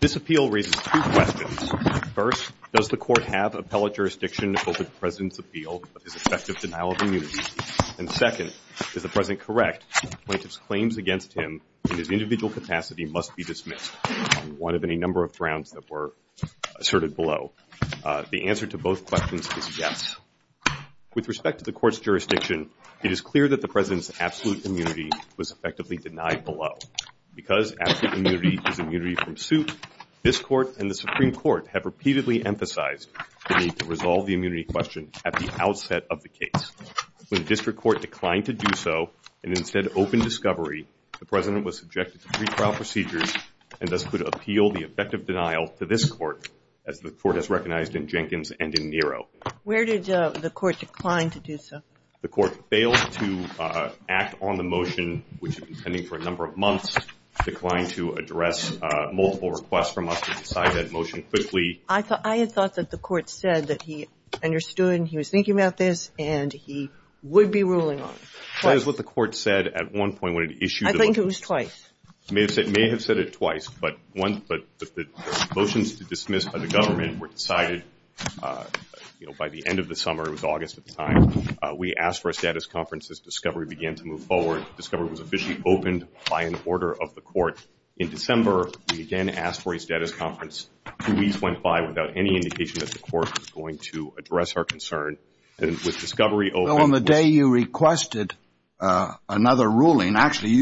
This appeal raises two questions. First, does the Court have appellate jurisdiction to go to the President's appeal of his effective denial of immunity? And second, is the President correct that the plaintiff's claims against him in his individual capacity must be dismissed number of grounds that were asserted below? The answer to both questions is yes. With respect to the Court's jurisdiction, it is clear that the President's absolute immunity was effectively denied below. Because absolute immunity is immunity from suit, this Court and the Supreme Court have repeatedly emphasized the need to resolve the immunity question at the outset of the case. When the District Court declined to do so and instead opened discovery, the President was subjected to three trial procedures and thus could appeal the effective denial to this Court, as the Court has recognized in Jenkins and in Nero. Where did the Court decline to do so? The Court failed to act on the motion, which had been pending for a number of months, declined to address multiple requests from us to decide that motion quickly. I had thought that the Court said that he understood and he was thinking about this and he would be ruling on it. That is what the Court said at one point when it issued the motion. I think it was twice. It may have said it twice, but the motions to dismiss by the government were decided by the end of the summer. It was August at the time. We asked for a status conference as discovery began to move forward. Discovery was officially opened by an order of the Court. In December, we again asked for a status conference. Two weeks went by without any indication that the Court was going to address our concern. And with discovery open... Well, on the day you requested another ruling, actually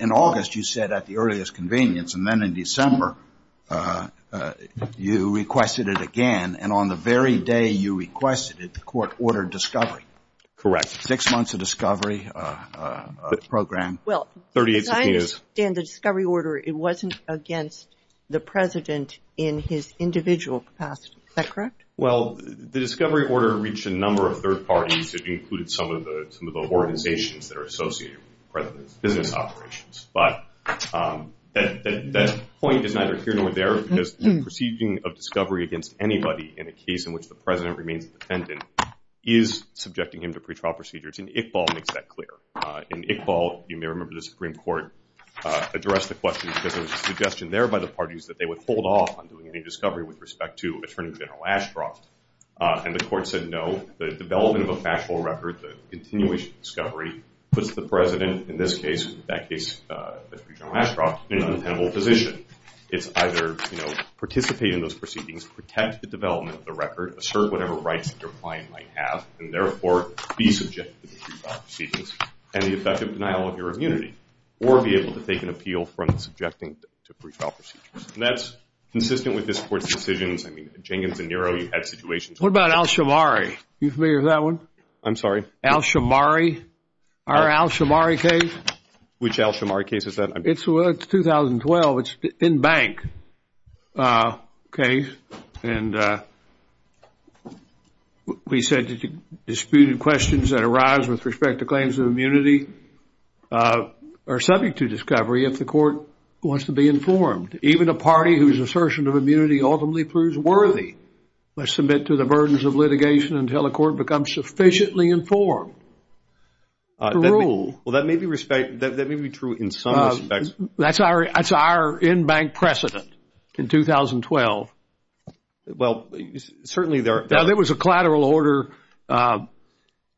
in August, you said at the earliest convenience, and then in December, you requested it again. And on the very day you requested it, the Court ordered discovery. Correct. Six months of discovery program. Well, as I understand the discovery order, it wasn't against the President in his individual capacity. Is that correct? Well, the discovery order reached a number of third parties. It included some of the organizations that are associated with the President's business operations. But that point is neither here nor there because the proceeding of discovery against anybody in a case in which the President remains defendant is subjecting him to pretrial procedures. And Iqbal makes that clear. In Iqbal, you may remember the Supreme Court addressed the question because there was a suggestion there by the parties that they would hold off on doing any discovery with respect to Attorney General Ashcroft. And the Court said no. The development of a factual record, the continuation of discovery, puts the President, in this case, in that case, Attorney General Ashcroft, in an independent position. It's either participate in those proceedings, protect the development of the record, assert whatever rights that your client might have, and therefore be subjected to precedence and the effective denial of your immunity, or be able to take an appeal from subjecting to pretrial procedures. And that's consistent with this Court's decisions. I mean, Jenkins and Nero, you've had situations. What about Alshamari? Are you familiar with that one? I'm sorry? Alshamari. Our Alshamari case. Which Alshamari case is that? It's 2012. It's an in-bank case. And we said that you disputed questions that arise with respect to claims of immunity or subject to discovery if the Court wants to be informed. Even a party whose assertion of immunity ultimately proves worthy must submit to the burdens of litigation until the Court becomes sufficiently informed to rule. Well, that may be true in some respects. That's our in-bank precedent in 2012. Well, certainly there... There was a collateral order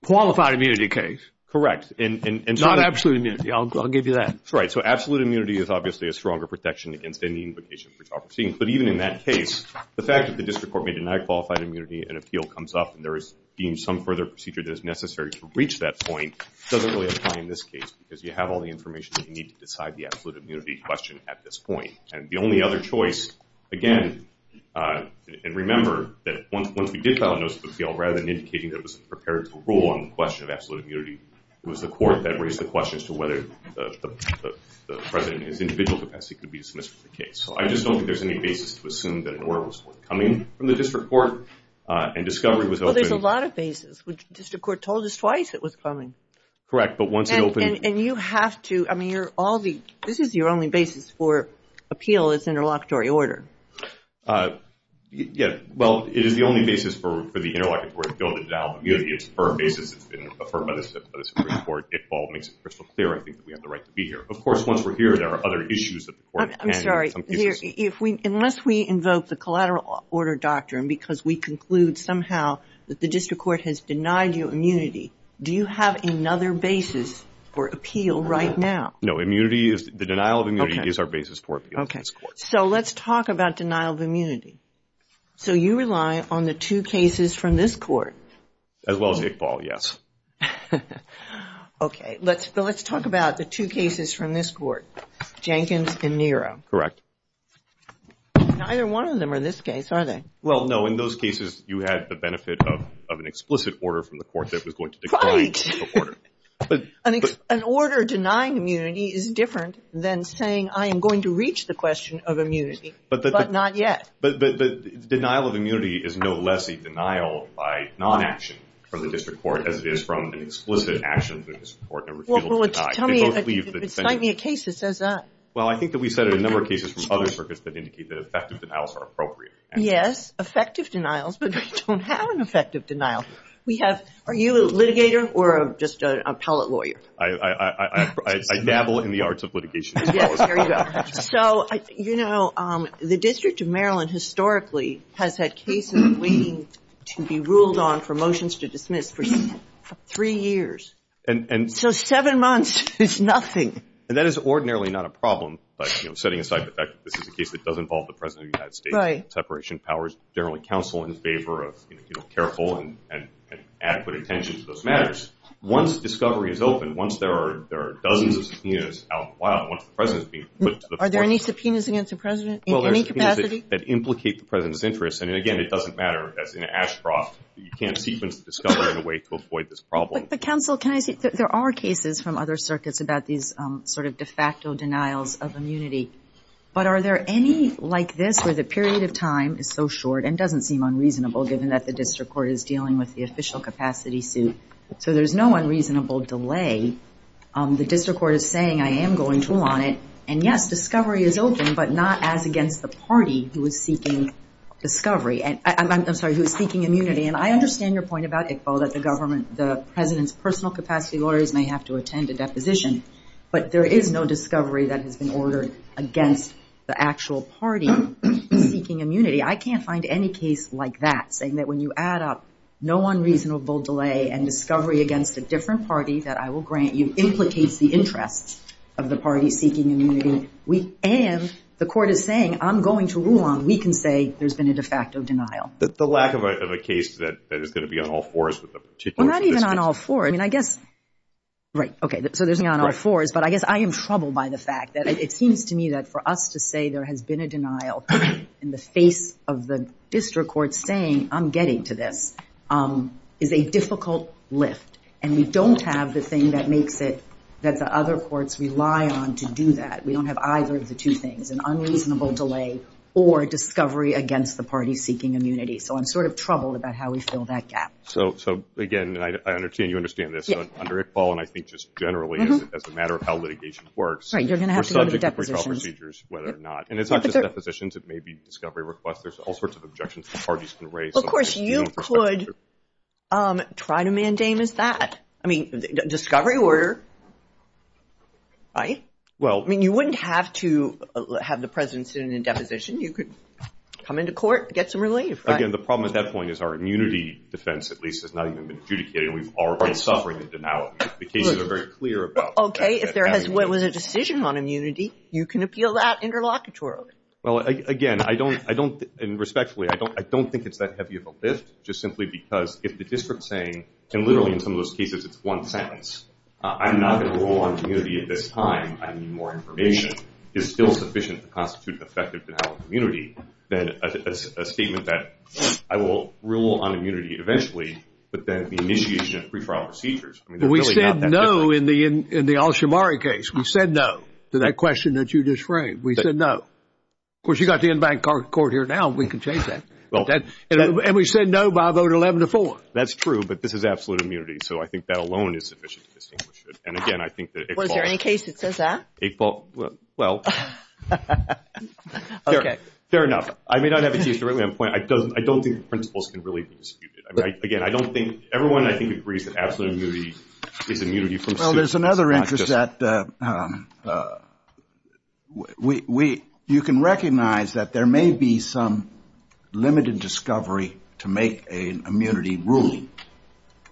qualified immunity case. Correct. It's not absolute immunity. I'll give you that. That's right. So absolute immunity is obviously a stronger protection against any invocation for child proceeding. But even in that case, the fact that the District Court may deny qualified immunity, an appeal comes up, and there is deemed some further procedure that is necessary to reach that point, doesn't really apply in this case because you have all the information that you need to decide the absolute immunity question at this point. And the only other choice, again, and remember that once we did file a notice of appeal, rather than indicating that it was prepared to rule on the question of absolute immunity, it was the Court that raised the question as to whether the President in his individual capacity could be dismissed from the case. So I just don't think there's any basis to assume that an order was forthcoming from the District Court and discovery was open... Well, there's a lot of basis. The District Court told us twice it was coming. Correct, but once it opened... And you have to... I mean, you're all the... This is your only basis for appeal is interlocutory order. Yeah, well, it is the only basis for the interlocutory appeal, the denial of immunity. It's a firm basis. It's been affirmed by the Supreme Court. It all makes it crystal clear, I think, that we have the right to be here. Of course, once we're here, there are other issues that the Court can... I'm sorry, unless we invoke the collateral order doctrine because we conclude somehow that the District Court has denied you immunity, do you have another basis for appeal right now? No, immunity is... The denial of immunity is our basis for appeal in this Court. So, let's talk about denial of immunity. So, you rely on the two cases from this Court? As well as Iqbal, yes. Okay, let's talk about the two cases from this Court, Jenkins and Nero. Correct. Neither one of them are in this case, are they? Well, no, in those cases, you had the benefit of an explicit order from the Court that was going to decline the order. An order denying immunity is different than saying, I am going to reach the question of immunity, but not yet. But denial of immunity is no less a denial by non-action from the District Court as it is from an explicit action from the District Court and refusal to deny. Well, tell me, cite me a case that says that. Well, I think that we cited a number of cases from other circuits that indicate that effective denials are appropriate. Yes, effective denials, but we don't have an effective denial. Are you a litigator or just an appellate lawyer? I dabble in the arts of litigation. So, the District of Maryland historically has had cases waiting to be ruled on for motions to dismiss for three years. So, seven months is nothing. And that is ordinarily not a problem, but setting aside the fact that this is a case that does involve the President of the United States, separation of powers, generally counsel in favor of careful and adequate attention to those matters. Once discovery is open, once there are dozens of subpoenas out in the wild, once the President is being put to the floor. Are there any subpoenas against the President in any capacity? That implicate the President's interests. And again, it doesn't matter as in Ashcroft, you can't sequence the discovery in a way to avoid this problem. But counsel, can I say, there are cases from other circuits about these sort of de facto denials of immunity. But are there any like this where the period of time is so short and doesn't seem unreasonable given that the district court is dealing with the official capacity suit. So, there's no unreasonable delay. The district court is saying, I am going to want it. And yes, discovery is open, but not as against the party who is seeking discovery and I'm sorry, who is seeking immunity. And I understand your point about ICPO that the government, the President's personal capacity lawyers may have to attend a deposition. But there is no discovery that has been ordered against the actual party seeking immunity. I can't find any case like that saying that when you add up no unreasonable delay and discovery against a different party that I will grant you, implicates the interests of the party seeking immunity. And the court is saying, I'm going to rule on. We can say there's been a de facto denial. The lack of a case that is going to be on all fours with the particular district. Well, not even on all four. I mean, I guess, right. So, there's not on all fours, but I guess I am troubled by the fact that it seems to me that for us to say there has been a denial in the face of the district court saying I'm getting to this is a difficult lift. And we don't have the thing that makes it that the other courts rely on to do that. We don't have either of the two things, an unreasonable delay or discovery against the party seeking immunity. So, I'm sort of troubled about how we fill that gap. So, again, I understand you understand this. Under Iqbal, and I think just generally as a matter of how litigation works. Right. You're going to have to go to the depositions. Whether or not. And it's not just depositions. It may be discovery requests. There's all sorts of objections the parties can raise. Of course, you could try to mandamus that. I mean, discovery order. Right. Well, I mean, you wouldn't have to have the president sit in a deposition. You could come into court, get some relief. Again, the problem at that point is our immunity defense, at least, has not even been adjudicated. We are already suffering the denial of immunity. The cases are very clear about that. Okay. If there was a decision on immunity, you can appeal that interlocutorily. Well, again, I don't, and respectfully, I don't think it's that heavy of a lift. Just simply because if the district's saying, and literally in some of those cases, it's one sentence. I'm not going to rule on immunity at this time. I need more information. It's still sufficient to constitute an effective denial of immunity. Then a statement that I will rule on immunity eventually. But then the initiation of pre-trial procedures. I mean, they're really not that different. We said no in the Alshamari case. We said no to that question that you just framed. We said no. Of course, you've got the in-bank court here now. We can change that. And we said no by a vote of 11 to 4. That's true, but this is absolute immunity. So I think that alone is sufficient to distinguish it. And again, I think that it falls— Was there any case that says that? It falls, well, fair enough. I may not have a case directly on point. I don't think the principles can really be disputed. Again, I don't think— Everyone, I think, agrees that absolute immunity is immunity from suit. Well, there's another interest that— You can recognize that there may be some limited discovery to make an immunity ruling.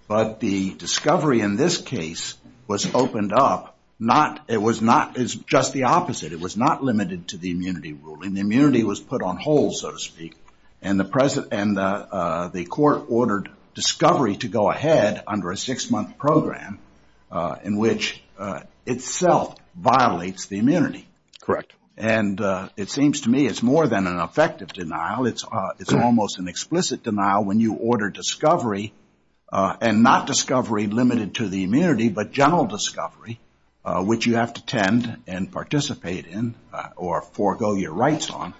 But the discovery in this case was opened up. It was not just the opposite. It was not limited to the immunity ruling. The immunity was put on hold, so to speak. And the court ordered discovery to go ahead under a six-month program in which itself violates the immunity. Correct. And it seems to me it's more than an effective denial. It's almost an explicit denial when you order discovery and not discovery limited to the immunity, but general discovery, which you have to tend and participate in or forego your rights on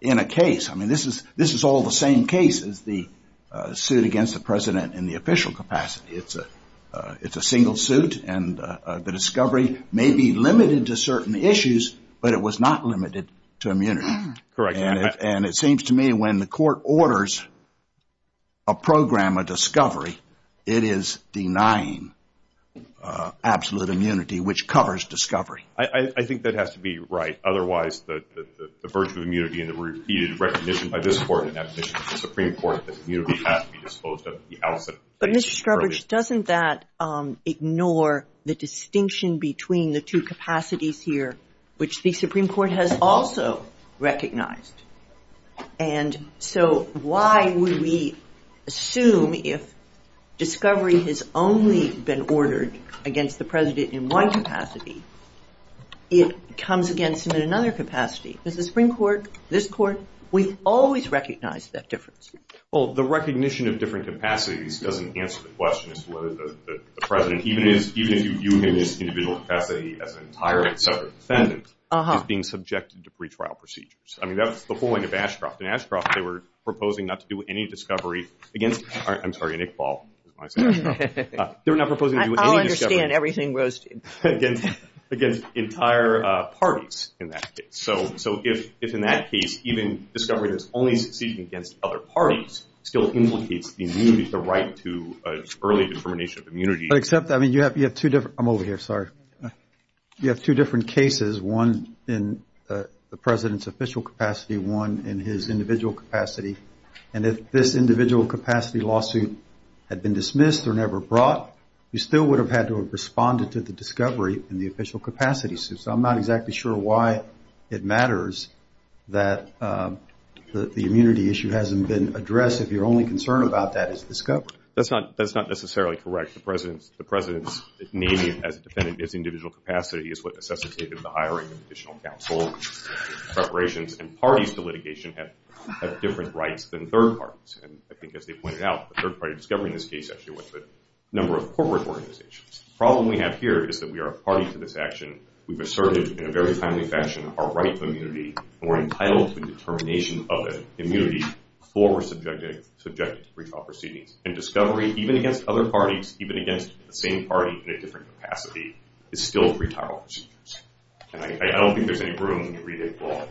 in a case. This is all the same case as the suit against the president in the official capacity. It's a single suit, and the discovery may be limited to certain issues, but it was not limited to immunity. Correct. And it seems to me when the court orders a program of discovery, it is denying absolute immunity, which covers discovery. I think that has to be right. Otherwise, the virtue of immunity and the repeated recognition by this court and that position of the Supreme Court that immunity has to be disposed of. But Mr. Scrubbage, doesn't that ignore the distinction between the two capacities here, which the Supreme Court has also recognized? And so why would we assume if discovery has only been ordered against the president in one capacity, it comes against him in another capacity? Because the Supreme Court, this court, we've always recognized that difference. Well, the recognition of different capacities doesn't answer the question as to whether the president, even if you have this individual capacity as an entire separate defendant, is being subjected to pretrial procedures. I mean, that's the whole thing of Ashcroft. In Ashcroft, they were proposing not to do any discovery against, I'm sorry, Nick Paul. They were not proposing to do any discovery. I understand everything Rose did. Against entire parties in that case. So if in that case, even discovery that's only succeeded against other parties still implicates the immunity, the right to early determination of immunity. But except, I mean, you have two different, I'm over here, sorry. You have two different cases, one in the president's official capacity, one in his individual capacity. And if this individual capacity lawsuit had been dismissed or never brought, you still would have had to have responded to the discovery in the official capacity suit. So I'm not exactly sure why it matters that the immunity issue hasn't been addressed if your only concern about that is discovery. That's not necessarily correct. The president's naming as a defendant his individual capacity is what necessitated the hiring of additional counsel, preparations. And parties to litigation have different rights than third parties. And I think as they pointed out, the third party discovering this case with a number of corporate organizations. The problem we have here is that we are a party to this action. We've asserted in a very timely fashion our right to immunity and we're entitled to the determination of the immunity before we're subjected to retrial proceedings. And discovery, even against other parties, even against the same party in a different capacity, is still retrial procedures. And I don't think there's any room to read a law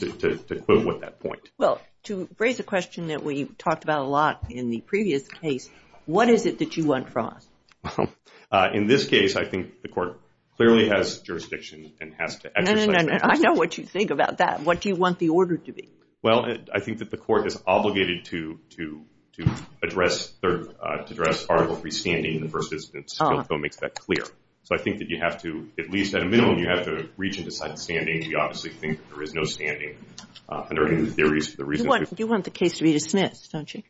to quibble with that point. Well, to raise a question that we talked about a lot in the previous case, what is it that you want from us? In this case, I think the court clearly has jurisdiction and has to exercise that jurisdiction. I know what you think about that. What do you want the order to be? Well, I think that the court is obligated to address article 3 standing in the first instance until it makes that clear. So I think that you have to, at least at a minimum, you have to reach and decide the standing. We obviously think there is no standing under any of the theories. You want the case to be dismissed, don't you?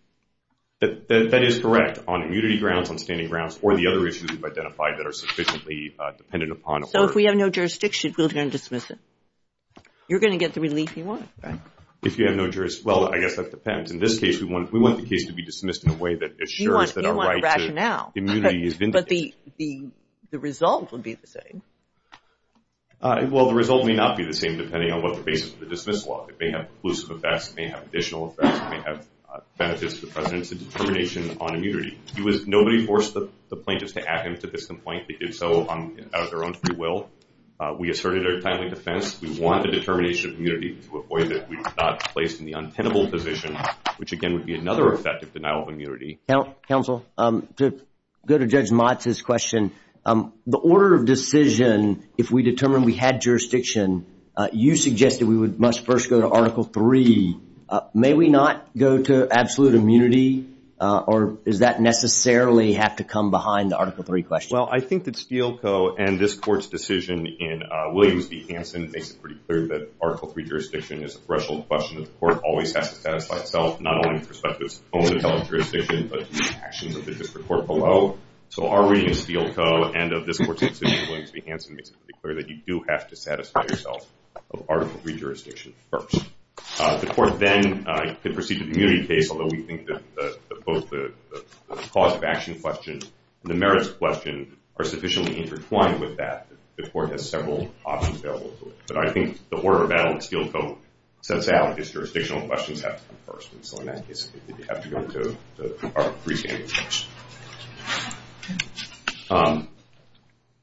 That is correct on immunity grounds, on standing grounds, or the other issues we've identified that are sufficiently dependent upon order. So if we have no jurisdiction, we're going to dismiss it? You're going to get the relief you want, right? If you have no jurisdiction, well, I guess that depends. In this case, we want the case to be dismissed in a way that assures that our right to immunity is vindicated. But the result would be the same. Well, the result may not be the same, depending on what the basis of the dismissal law. It may have conclusive effects. It may have additional effects. It may have benefits to the president's determination on immunity. Nobody forced the plaintiffs to add him to this complaint. They did so out of their own free will. We asserted our timely defense. We want the determination of immunity to avoid it. We did not place him in the untenable position, which, again, would be another effective denial of immunity. Counsel, to go to Judge Motz's question, the order of decision, if we determine we had jurisdiction, you suggested we must first go to Article III. May we not go to absolute immunity? Or does that necessarily have to come behind the Article III question? Well, I think that Steele Co. and this Court's decision in Williams v. Hansen makes it pretty clear that Article III jurisdiction is a threshold question that the Court always has to satisfy itself, not only with respect to its own intellectual jurisdiction, but to the actions of the district court below. So our reading of Steele Co. and of this Court's decision in Williams v. Hansen makes it pretty clear that you do have to satisfy yourself of Article III jurisdiction first. The Court then could proceed to the immunity case, although we think that both the cause of action question and the merits question are sufficiently intertwined with that. The Court has several options available to it. But I think the order of battle that Steele Co. sets out is jurisdictional questions have to come first. And so in that case, you have to go to the Article III standard question.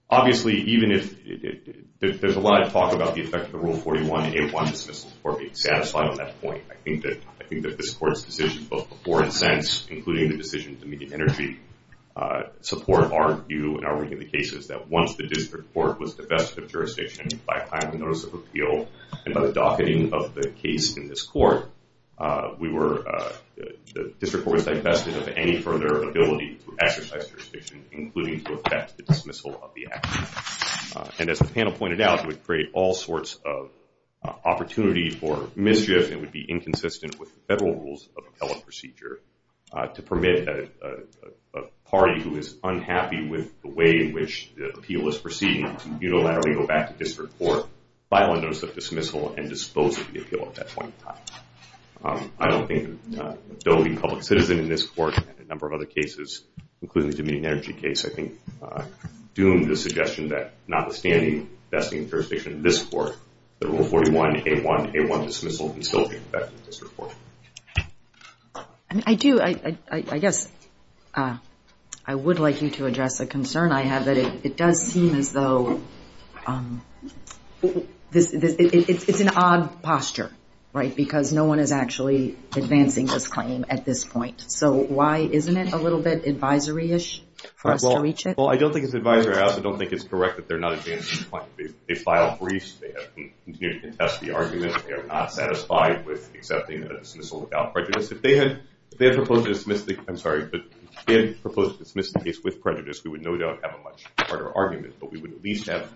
Obviously, even if there's a lot of talk about the effect of the Rule 41, a one-dismissal Court being satisfied on that point, I think that this Court's decision, both before and since, including the decision to immediate energy, support our view and our reading of the cases that once the district court was divested of jurisdiction by time of notice of appeal, and by the docketing of the case in this Court, the district court was divested of any further ability to exercise jurisdiction, including to effect the dismissal of the action. And as the panel pointed out, it would create all sorts of opportunity for mischief and would be inconsistent with the federal rules of appellate procedure to permit a party who is unhappy with the way in which the appeal is proceeding to unilaterally go back to district court, file a notice of dismissal, and dispose of the appeal at that point in time. I don't think that Doe being a public citizen in this Court and a number of other cases, including the immediate energy case, I think doomed the suggestion that notwithstanding divesting of jurisdiction in this Court, the Rule 41, A1, A1 dismissal can still be effected in the district court. I mean, I do, I guess, I would like you to address a concern I have, that it does seem as though, it's an odd posture, right? Because no one is actually advancing this claim at this point. So why isn't it a little bit advisory-ish for us to reach it? Well, I don't think it's advisory-out. I don't think it's correct that they're not advancing the claim. They filed briefs. They have continued to contest the argument. They are not satisfied with accepting a dismissal without prejudice. If they had proposed to dismiss the case with prejudice, we would no doubt have a much harder argument. But we would at least have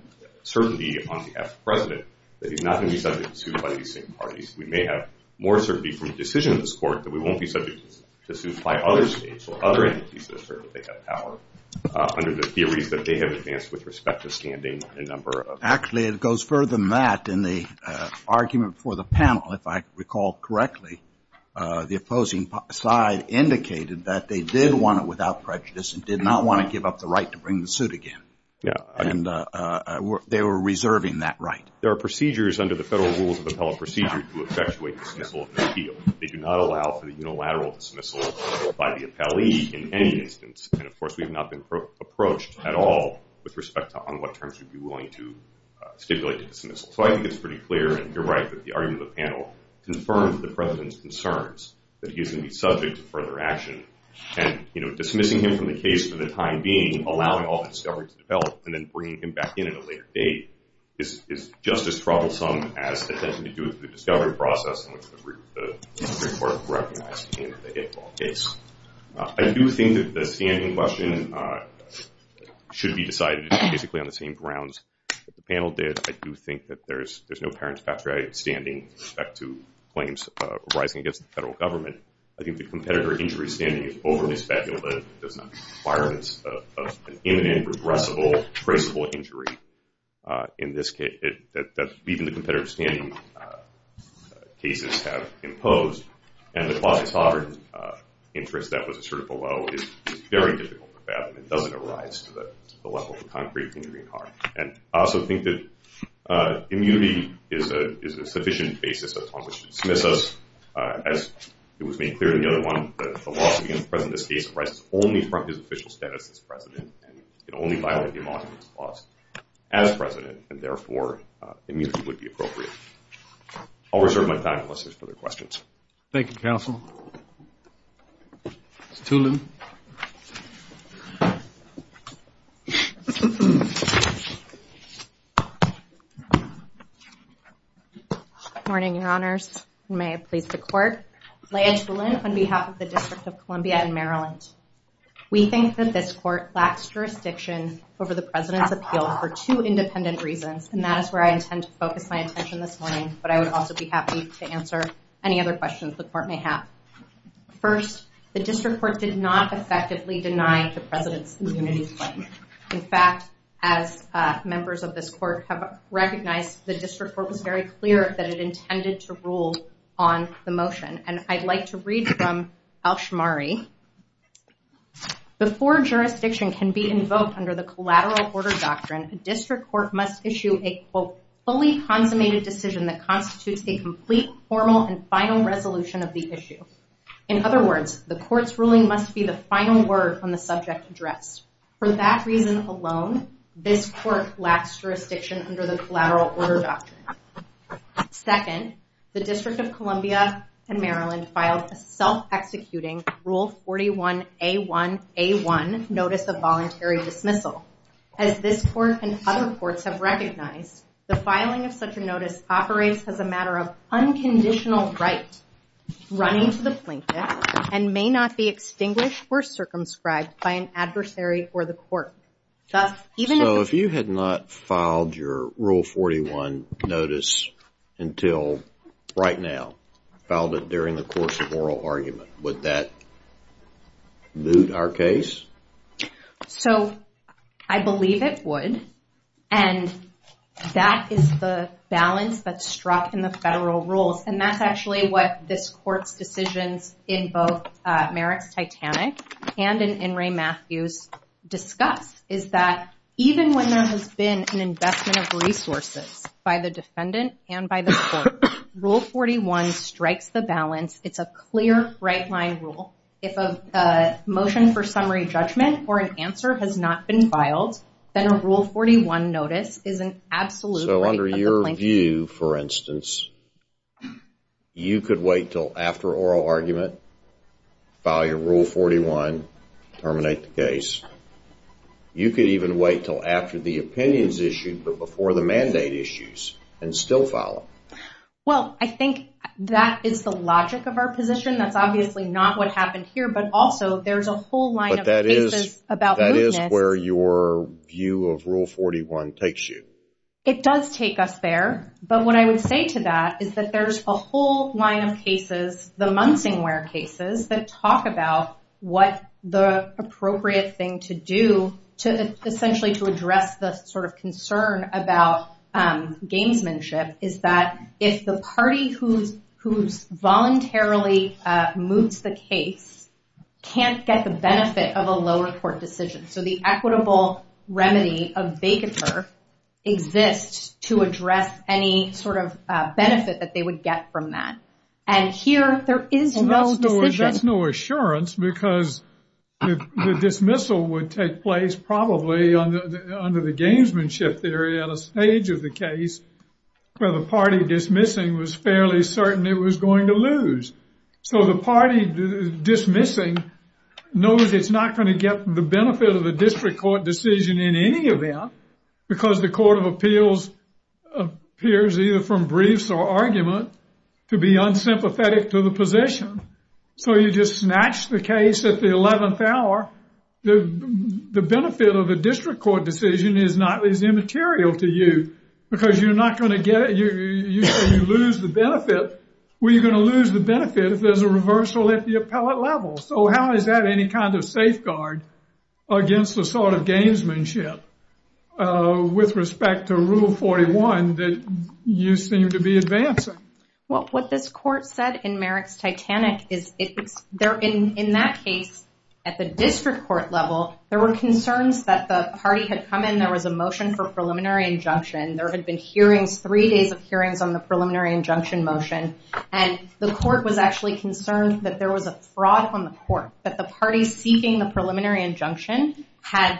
certainty on behalf of the President that he's not going to be subject to suit by these same parties. We may have more certainty from the decision of this Court that we won't be subject to suit by other states or other entities that assert that they have power under the theories that they have advanced with respect to standing. Actually, it goes further than that. In the argument for the panel, if I recall correctly, the opposing side indicated that they did want it without prejudice and did not want to give up the right to bring the suit again. And they were reserving that right. There are procedures under the federal rules of appellate procedure to effectuate dismissal of an appeal. They do not allow for the unilateral dismissal by the appellee in any instance. And, of course, we've not been approached at all with respect to on what terms we'd be willing to stipulate a dismissal. So I think it's pretty clear, and you're right, that the argument of the panel confirms the President's concerns that he is going to be subject to further action. And, you know, dismissing him from the case for the time being, allowing all the discovery to develop, and then bringing him back in at a later date is just as troublesome as attempting to do it through the discovery process in which the Supreme Court recognized him in the Hick Law case. I do think that the standing question should be decided basically on the same grounds that the panel did. I do think that there's no apparent statutory standing with respect to claims arising against the federal government. I think the competitor injury standing is overly speculative. There's not requirements of an imminent, regressible, traceable injury in this case that even the competitor standing cases have imposed. And the quasi-sovereign interest that was asserted below is very difficult to fathom. It doesn't arise to the level of a concrete injury in heart. And I also think that immunity is a sufficient basis upon which to dismiss us, as it was made clear in the other one, that the lawsuit against the President of this case arises only from his official status as President, and it only violated him on his clause as President, and therefore immunity would be appropriate. I'll reserve my time unless there's further questions. Thank you, Counsel. Ms. Tulin. Good morning, Your Honors. May it please the Court. Leah Tulin on behalf of the District of Columbia in Maryland. We think that this Court lacks jurisdiction over the President's appeal for two independent reasons, and that is where I intend to focus my attention this morning, but I would also be happy to answer any other questions the Court may have. First, the District Court did not effectively deny the President's immunity claim. In fact, as members of this Court have recognized, the District Court was very clear that it intended to rule on the motion. And I'd like to read from Alshmari. Before jurisdiction can be invoked under the collateral order doctrine, a District Court must issue a, quote, that constitutes a complete, formal, and final resolution of the issue. In other words, the Court's ruling must be the final word on the subject addressed. For that reason alone, this Court lacks jurisdiction under the collateral order doctrine. Second, the District of Columbia in Maryland filed a self-executing Rule 41A1A1 Notice of Voluntary Dismissal. As this Court and other courts have recognized, the filing of such a notice operates as a matter of unconditional right, running to the plaintiff, and may not be extinguished or circumscribed by an adversary or the Court. Thus, even if- So, if you had not filed your Rule 41 notice until right now, filed it during the course of oral argument, would that boot our case? So, I believe it would. And that is the balance that's struck in the federal rules. And that's actually what this Court's decisions in both Merrick's Titanic and in In re. Matthews discussed, is that even when there has been an investment of resources by the defendant and by the Court, Rule 41 strikes the balance. It's a clear, right-line rule. If a motion for summary judgment or an answer has not been filed, then a Rule 41 notice is an absolute right of the plaintiff. So, under your view, for instance, you could wait till after oral argument, file your Rule 41, terminate the case. You could even wait till after the opinion's issued, but before the mandate issues, and still file it. Well, I think that is the logic of our position. That's obviously not what happened here. But also, there's a whole line of cases about mootness- view of Rule 41 takes you. It does take us there. But what I would say to that is that there's a whole line of cases, the Munsingware cases, that talk about what the appropriate thing to do to essentially to address the sort of concern about gamesmanship is that if the party who's voluntarily moots the case can't get the benefit of a lower court decision. So, the equitable remedy of vacatur exists to address any sort of benefit that they would get from that. And here, there is no decision. That's no assurance because the dismissal would take place probably under the gamesmanship theory at a stage of the case where the party dismissing was fairly certain it was going to lose. So, the party dismissing knows it's not going to get the benefit of a district court decision in any event because the Court of Appeals appears either from briefs or argument to be unsympathetic to the position. So, you just snatch the case at the 11th hour. The benefit of a district court decision is not as immaterial to you because you're not going to get it. You lose the benefit. We're going to lose the benefit if there's a reversal at the appellate level. So, how is that any kind of safeguard against the sort of gamesmanship with respect to Rule 41 that you seem to be advancing? Well, what this court said in Merrick's Titanic is in that case, at the district court level, there were concerns that the party had come in. There was a motion for preliminary injunction. There had been hearings, three days of hearings on the preliminary injunction motion. And the court was actually concerned that there was a fraud on the court, that the party seeking the preliminary injunction had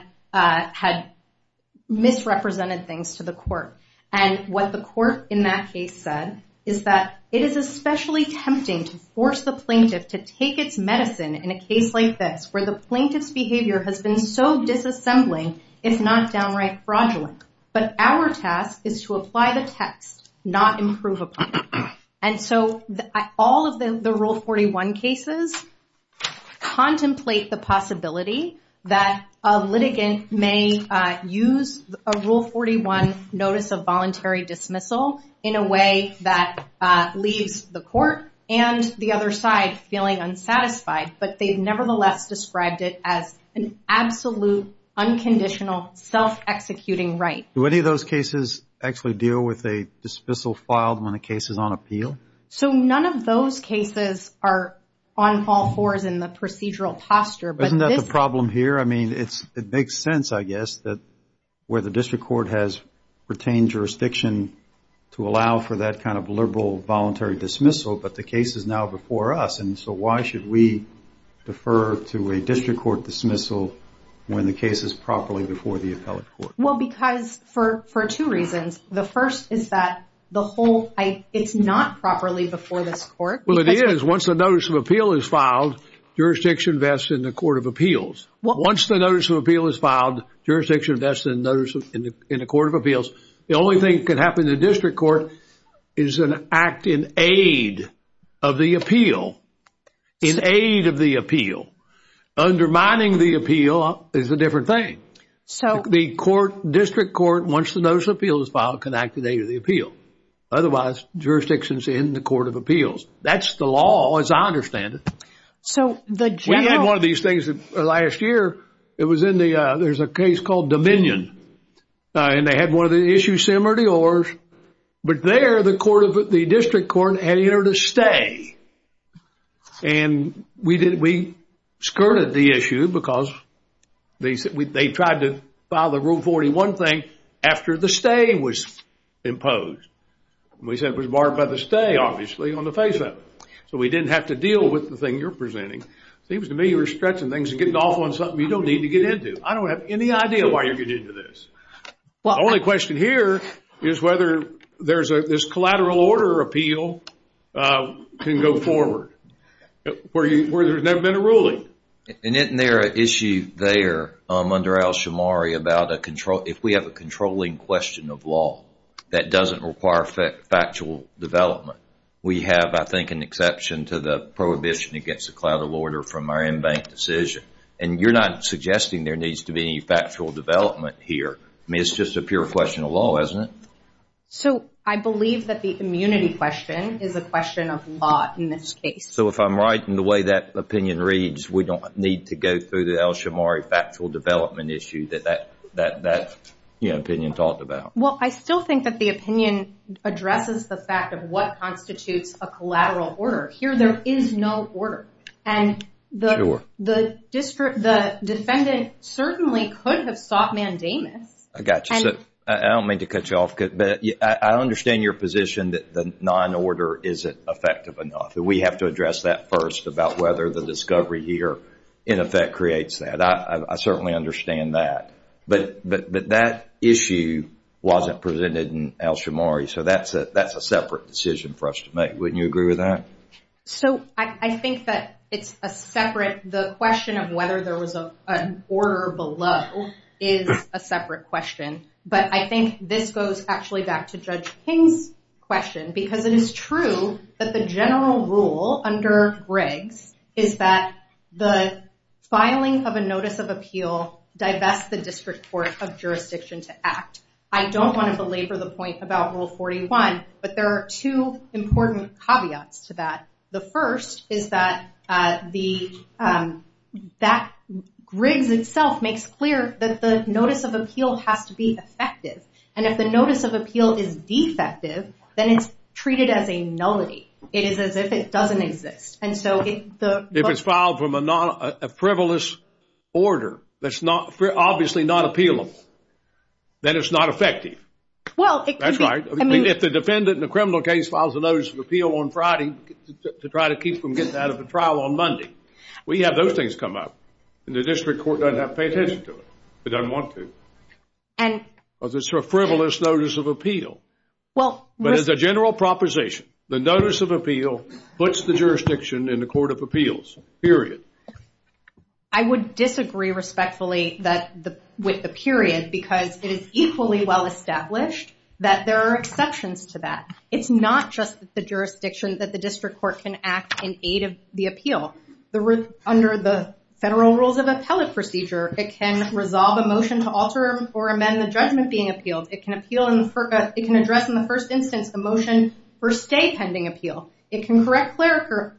misrepresented things to the court. And what the court in that case said is that it is especially tempting to force the plaintiff to take its medicine in a case like this where the plaintiff's behavior has been so disassembling, if not downright fraudulent. But our task is to apply the text, not improve upon it. And so, all of the Rule 41 cases contemplate the possibility that a litigant may use a Rule 41 notice of voluntary dismissal in a way that leaves the court and the other side feeling unsatisfied. But they've nevertheless described it as an absolute, unconditional, self-executing right. Do any of those cases actually deal with a dismissal filed when a case is on appeal? So, none of those cases are on all fours in the procedural posture. Isn't that the problem here? I mean, it makes sense, I guess, that where the district court has retained jurisdiction to allow for that kind of liberal, voluntary dismissal, but the case is now before us. And so, why should we defer to a district court dismissal when the case is properly before the appellate court? Well, because for two reasons. The first is that the whole, it's not properly before this court. Well, it is, once a notice of appeal is filed. Jurisdiction invests in the Court of Appeals. Once the notice of appeal is filed, jurisdiction invests in the Court of Appeals. The only thing can happen in the district court is an act in aid of the appeal. In aid of the appeal. Undermining the appeal is a different thing. So the court, district court, once the notice of appeal is filed, can act in aid of the appeal. Otherwise, jurisdictions in the Court of Appeals. That's the law, as I understand it. So the general... We had one of these things last year. It was in the, there's a case called Dominion. And they had one of the issues similar to yours. But there the court of, the district court, had entered a stay. And we did, we skirted the issue because they tried to file the Rule 41 thing after the stay was imposed. We said it was barred by the stay, obviously, on the face-up. So we didn't have to deal with the thing you're presenting. Seems to me you're stretching things and getting off on something you don't need to get into. I don't have any idea why you're getting into this. Only question here is whether there's a, this collateral order appeal can go forward. Where you, where there's never been a ruling. And isn't there an issue there under Alshamari about a control, if we have a controlling question of law that doesn't require factual development. We have, I think, an exception to the prohibition against a collateral order from our in-bank decision. And you're not suggesting there needs to be any factual development here. I mean, it's just a pure question of law, isn't it? So I believe that the immunity question is a question of law in this case. So if I'm right in the way that opinion reads, we don't need to go through the Alshamari factual development issue that that opinion talked about. Well, I still think that the opinion addresses the fact of what constitutes a collateral order. Here, there is no order. And the defendant certainly could have sought mandamus. I got you. So I don't mean to cut you off. But I understand your position that the non-order isn't effective enough. We have to address that first, about whether the discovery here in effect creates that. I certainly understand that. But that issue wasn't presented in Alshamari. So that's a separate decision for us to make. Wouldn't you agree with that? So I think that it's a separate, the question of whether there was an order below is a separate question. But I think this goes actually back to Judge King's question. Because it is true that the general rule under Riggs is that the filing of a notice of appeal divests the district court of jurisdiction to act. I don't want to belabor the point about Rule 41. But there are two important caveats to that. The first is that Riggs itself makes clear that the notice of appeal has to be effective. And if the notice of appeal is defective, then it's treated as a nullity. It is as if it doesn't exist. And so if it's filed from a frivolous order that's obviously not appealable, then it's not effective. That's right. If the defendant in a criminal case files a notice of appeal on Friday to try to keep from getting out of the trial on Monday, we have those things come up. And the district court doesn't have to pay attention to it. It doesn't want to. Because it's a frivolous notice of appeal. But as a general proposition, the notice of appeal puts the jurisdiction in the court of appeals, period. I would disagree respectfully with the period. Because it is equally well-established that there are exceptions to that. It's not just the jurisdiction that the district court can act in aid of the appeal. Under the federal rules of appellate procedure, it can resolve a motion to alter or amend the judgment being appealed. It can appeal and it can address in the first instance a motion for stay pending appeal. It can correct clerical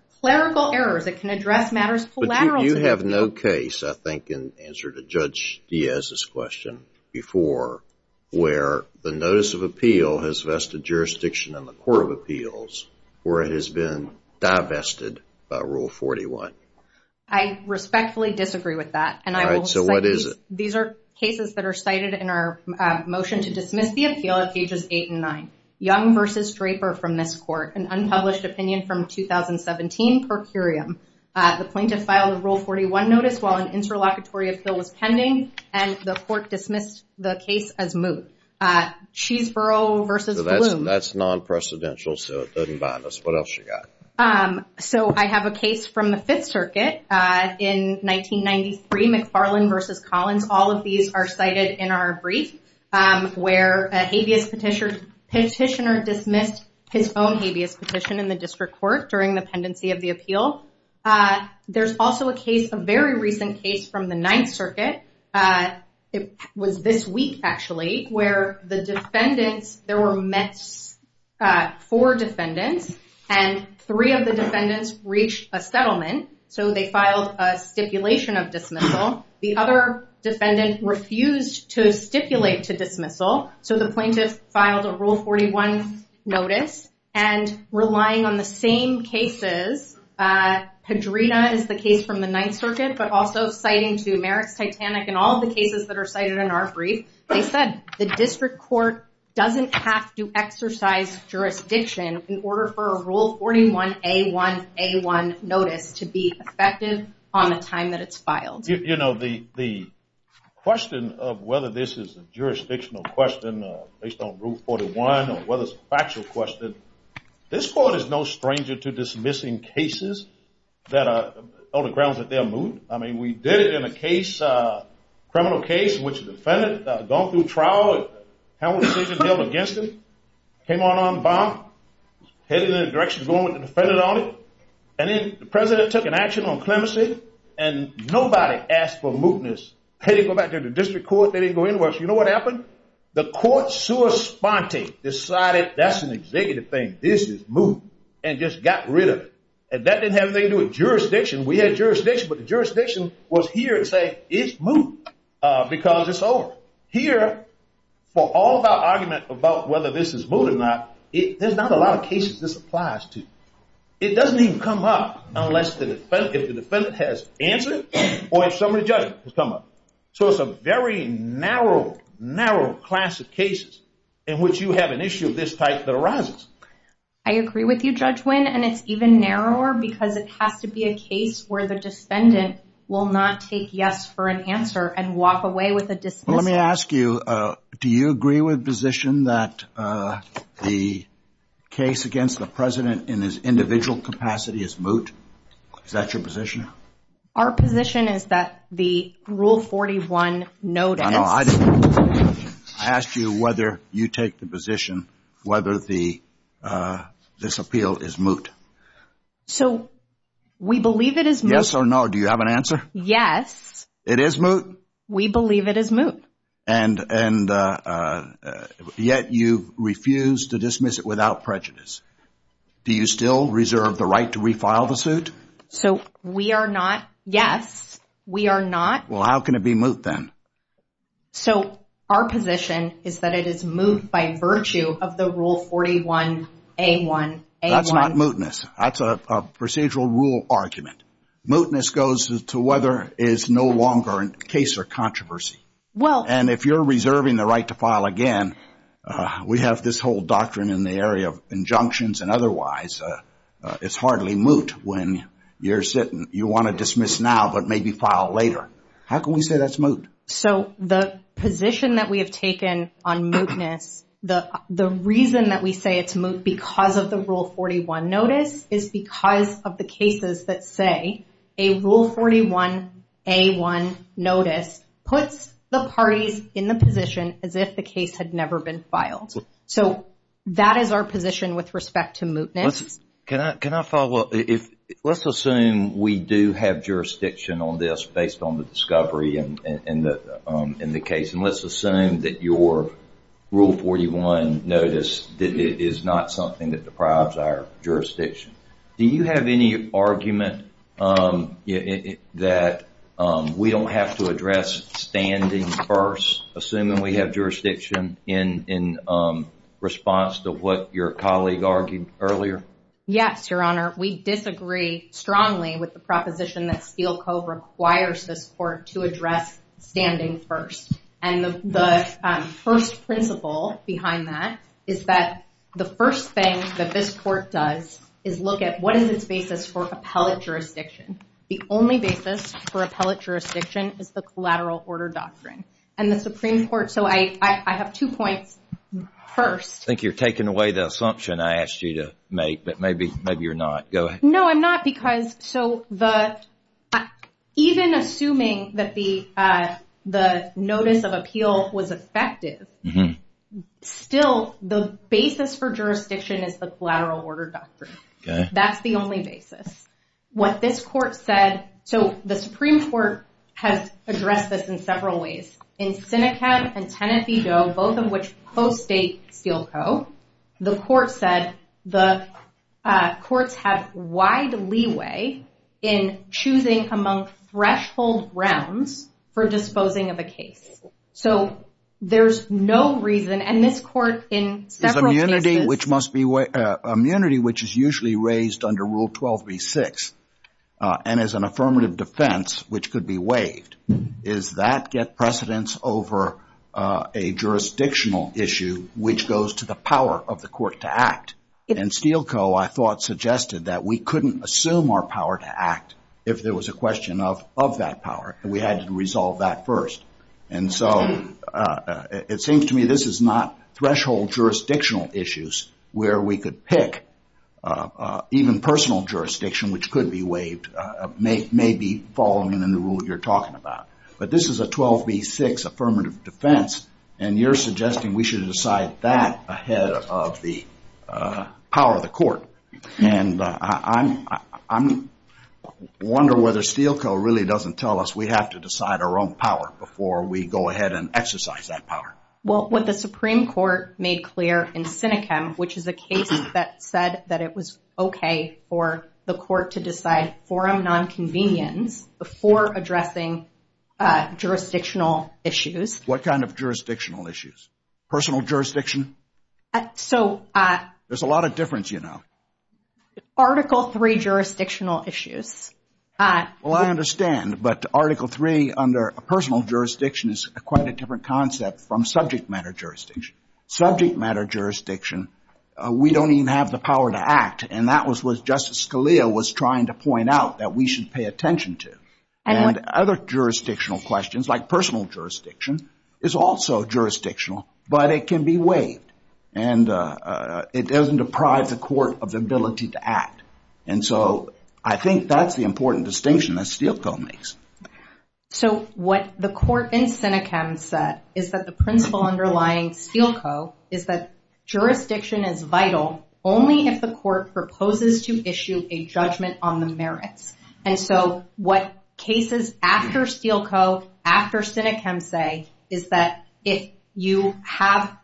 errors. It can address matters collateral to the appeal. I think in answer to Judge Diaz's question before, where the notice of appeal has vested jurisdiction in the court of appeals, where it has been divested by Rule 41. I respectfully disagree with that. These are cases that are cited in our motion to dismiss the appeal at pages eight and nine. Young versus Draper from this court, an unpublished opinion from 2017 per curiam. The plaintiff filed a Rule 41 notice while an interlocutory appeal was pending and the court dismissed the case as moot. Cheeseborough versus Bloom. That's non-precedential, so it doesn't bind us. What else you got? So I have a case from the Fifth Circuit in 1993, McFarland versus Collins. All of these are cited in our brief where a habeas petitioner dismissed his own habeas petition in the district court during the pendency of the appeal. There's also a case, a very recent case from the Ninth Circuit. It was this week, actually, where the defendants, there were four defendants and three of the defendants reached a settlement. So they filed a stipulation of dismissal. The other defendant refused to stipulate to dismissal. So the plaintiff filed a Rule 41 notice and relying on the same cases, Pedrina is the case from the Ninth Circuit, but also citing to Merrick's Titanic and all of the cases that are cited in our brief. They said the district court doesn't have to exercise jurisdiction in order for a Rule 41A1A1 notice to be effective on the time that it's filed. The question of whether this is a jurisdictional question based on Rule 41 or whether it's a factual question, this court is no stranger to dismissing cases that are, on the grounds that they're moot. I mean, we did it in a case, criminal case in which the defendant gone through trial, held a decision held against him, came on armed bomb, headed in the direction of going with the defendant on it. And then the president took an action on clemency and nobody asked for mootness. They didn't go back to the district court. They didn't go anywhere. So you know what happened? The court sua sponte decided that's an executive thing, this is moot and just got rid of it. And that didn't have anything to do with jurisdiction. We had jurisdiction, but the jurisdiction was here to say, it's moot because it's over. Here, for all of our argument about whether this is moot or not, there's not a lot of cases this applies to. It doesn't even come up unless if the defendant has answered or if somebody judge has come up. So it's a very narrow, narrow class of cases in which you have an issue of this type that arises. I agree with you, Judge Wynn, and it's even narrower because it has to be a case where the defendant will not take yes for an answer and walk away with a dismissal. Let me ask you, do you agree with position that the case against the president in his individual capacity is moot? Is that your position? Our position is that the Rule 41 notice... No, I asked you whether you take the position whether this appeal is moot. So we believe it is moot. Yes or no, do you have an answer? Yes. It is moot? We believe it is moot. And yet you refuse to dismiss it without prejudice. Do you still reserve the right to refile the suit? So we are not. Yes, we are not. Well, how can it be moot then? So our position is that it is moot by virtue of the Rule 41A1A1. That's not mootness. That's a procedural rule argument. Mootness goes to whether it's no longer a case or controversy. And if you're reserving the right to file again, we have this whole doctrine in the area of injunctions and otherwise. It's hardly moot when you're sitting. You want to dismiss now, but maybe file later. How can we say that's moot? So the position that we have taken on mootness, the reason that we say it's moot because of the Rule 41 notice is because of the cases that say a Rule 41A1 notice puts the parties in the position as if the case had never been filed. So that is our position with respect to mootness. Can I follow up? Let's assume we do have jurisdiction on this based on the discovery in the case. And let's assume that your Rule 41 notice is not something that deprives our jurisdiction. Do you have any argument that we don't have to address standing first, assuming we have jurisdiction in response to what your colleague argued earlier? Yes, Your Honor. We disagree strongly with the proposition that Steele Co. requires this court to address standing first. And the first principle behind that is that the first thing that this court does is look at what is its basis for appellate jurisdiction. The only basis for appellate jurisdiction is the collateral order doctrine. And the Supreme Court... So I have two points. First... I think you're taking away the assumption I asked you to make. Maybe you're not. Go ahead. No, I'm not. Even assuming that the notice of appeal was effective, still, the basis for jurisdiction is the collateral order doctrine. That's the only basis. What this court said... So the Supreme Court has addressed this in several ways. In Seneca and Tennessee Doe, both of which co-state Steele Co., the court said the courts have wide leeway in choosing among threshold grounds for disposing of a case. So there's no reason... And this court in several cases... There's immunity which is usually raised under Rule 12b-6. And as an affirmative defense, which could be waived, does that get precedence over a jurisdictional issue which goes to the power of the court to act? And Steele Co., I thought, suggested that we couldn't assume our power to act if there was a question of that power. We had to resolve that first. And so it seems to me this is not threshold jurisdictional issues where we could pick even personal jurisdiction which could be waived, maybe following in the rule you're talking about. But this is a 12b-6 affirmative defense. And you're suggesting we should decide that ahead of the power of the court. And I wonder whether Steele Co. really doesn't tell us we have to decide our own power before we go ahead and exercise that power. Well, what the Supreme Court made clear in Sinecam, which is a case that said that it was okay for the court to decide forum nonconvenience before addressing jurisdictional issues. What kind of jurisdictional issues? Personal jurisdiction? There's a lot of difference, you know. Article III jurisdictional issues. Well, I understand. But Article III under personal jurisdiction is quite a different concept from subject matter jurisdiction. Subject matter jurisdiction, we don't even have the power to act. And that was what Justice Scalia was trying to point out that we should pay attention to. And other jurisdictional questions like personal jurisdiction is also jurisdictional, but it can be waived. And it doesn't deprive the court of the ability to act. And so I think that's the important distinction that Steele Co. makes. So what the court in Sinecam said is that the principle underlying Steele Co. is that jurisdiction is vital only if the court proposes to issue a judgment on the merits. And so what cases after Steele Co., after Sinecam say, is that if you have,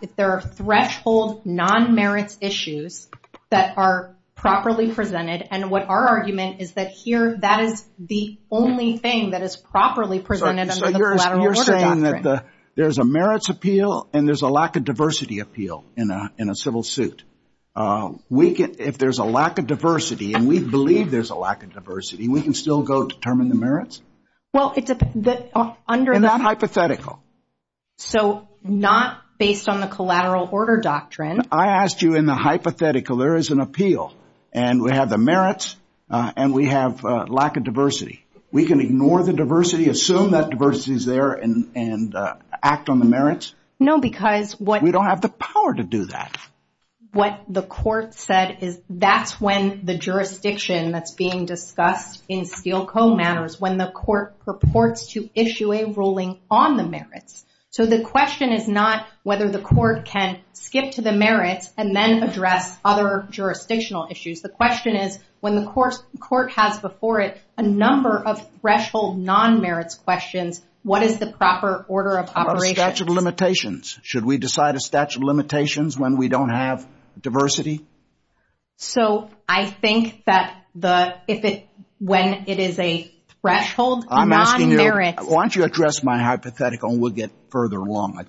if there are threshold non-merits issues that are properly presented, and what our argument is that here, that is the only thing that is properly presented under the collateral order doctrine. So you're saying that there's a merits appeal and there's a lack of diversity appeal in a civil suit. If there's a lack of diversity, and we believe there's a lack of diversity, we can still go determine the merits? Well, it's under the hypothetical. So not based on the collateral order doctrine. I asked you in the hypothetical, there is an appeal, and we have the merits, and we have a lack of diversity. We can ignore the diversity, assume that diversity is there, and act on the merits? No, because what... We don't have the power to do that. What the court said is that's when the jurisdiction that's being discussed in Steele Co. matters, when the court purports to issue a ruling on the merits. So the question is not whether the court can skip to the merits and then address other jurisdictional issues. The question is, when the court has before it a number of threshold non-merits questions, what is the proper order of operations? What about statute of limitations? Should we decide a statute of limitations when we don't have diversity? So I think that the... If it... When it is a threshold non-merits... I'm asking you... Why don't you address my hypothetical and we'll get further along.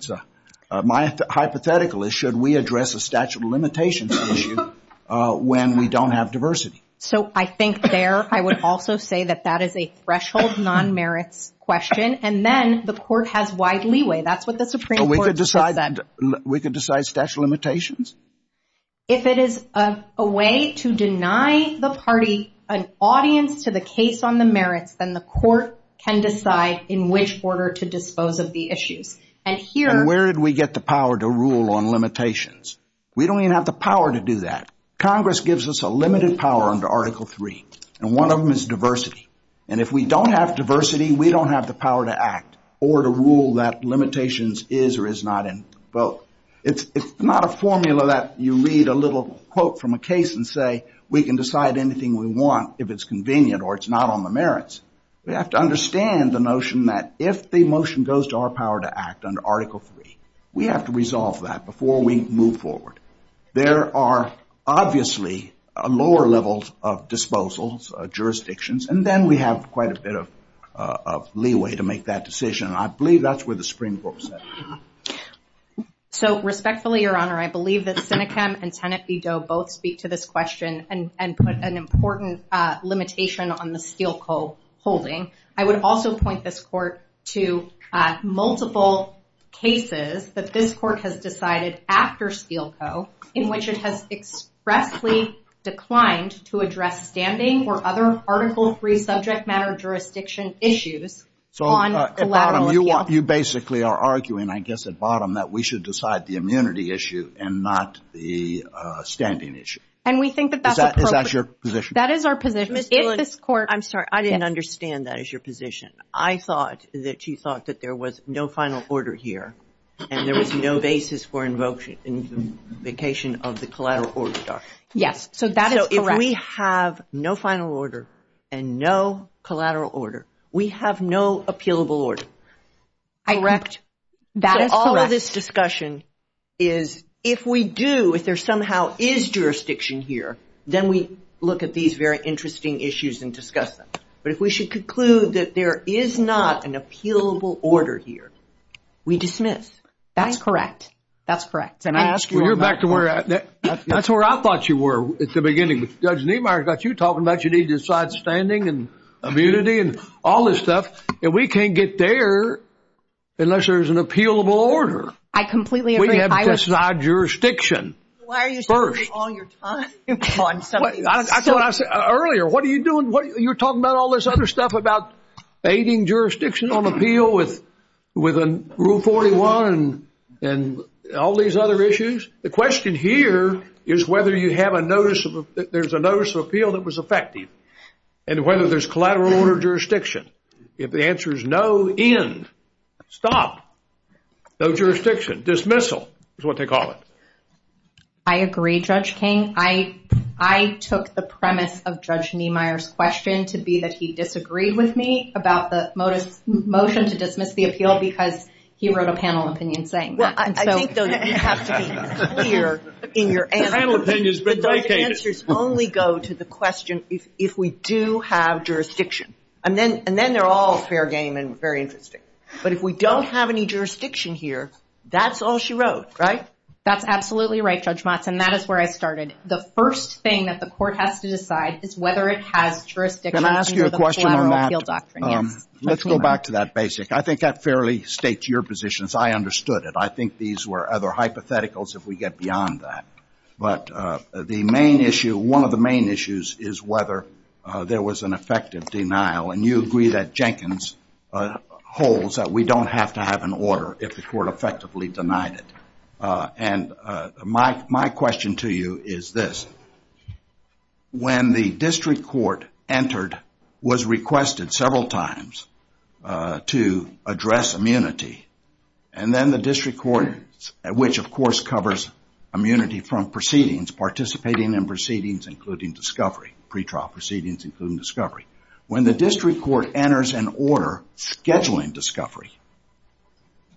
My hypothetical is, should we address a statute of limitations issue when we don't have diversity? So I think there, I would also say that that is a threshold non-merits question, and then the court has wide leeway. That's what the Supreme Court said. We could decide statute of limitations? If it is a way to deny the party an audience to the case on the merits, then the court can decide in which order to dispose of the issues. And here... And where did we get the power to rule on limitations? We don't even have the power to do that. Congress gives us a limited power under Article III, and one of them is diversity. And if we don't have diversity, we don't have the power to act or to rule that limitations is or is not in the vote. It's not a formula that you read a little quote from a case and say, we can decide anything we want if it's convenient or it's not on the merits. We have to understand the notion that if the motion goes to our power to act under Article III, we have to resolve that before we move forward. There are obviously a lower level of disposals, jurisdictions, and then we have quite a bit of leeway to make that decision. And I believe that's where the Supreme Court said. So respectfully, Your Honor, I believe that Senechem and Tenet v. Doe both speak to this question and put an important limitation on the Steele Co. holding. I would also point this court to multiple cases that this court has decided after Steele Co. in which it has expressly declined to address standing or other Article III subject matter jurisdiction issues. So, Adam, you basically are arguing I guess at bottom that we should decide the immunity issue and not the standing issue. And we think that that's appropriate. Is that your position? That is our position. Ms. Tillich, I'm sorry. I didn't understand that as your position. I thought that you thought that there was no final order here and there was no basis for invocation of the collateral order. Yes, so that is correct. So if we have no final order and no collateral order, we have no appealable order. Correct. So all of this discussion is if we do, if there somehow is jurisdiction here, then we look at these very interesting issues and discuss them. But if we should conclude that there is not an appealable order here, we dismiss. That's correct. That's correct. And I ask you... Well, you're back to where... That's where I thought you were at the beginning. Judge Niemeyer got you talking about you need to decide standing and immunity and all this stuff. And we can't get there unless there's an appealable order. I completely agree. We have to decide jurisdiction first. Why are you spending all your time on something? That's what I said earlier. What are you doing? You're talking about all this other stuff about aiding jurisdiction on appeal with Rule 41 and all these other issues. The question here is whether you have a notice of... There's a notice of appeal that was effective and whether there's collateral order jurisdiction. If the answer is no end, stop. No jurisdiction. Dismissal is what they call it. I agree, Judge King. I took the premise of Judge Niemeyer's question to be that he disagreed with me about the motion to dismiss the appeal because he wrote a panel opinion saying that. I think, though, you have to be clear in your answer. The panel opinion has been vacated. But those answers only go to the question if we do have jurisdiction. And then they're all fair game and very interesting. But if we don't have any jurisdiction here, that's all she wrote, right? That's absolutely right, Judge Motz. And that is where I started. The first thing that the court has to decide is whether it has jurisdiction... Can I ask you a question on that? Let's go back to that basic. I think that fairly states your positions. I understood it. I think these were other hypotheticals if we get beyond that. But the main issue, one of the main issues is whether there was an effective denial. And you agree that Jenkins holds that we don't have to have an order if the court effectively denied it. And my question to you is this. When the district court entered, was requested several times to address immunity, and then the district court, which, of course, covers immunity from proceedings, participating in proceedings, including discovery, pretrial proceedings, including discovery. When the district court enters an order scheduling discovery,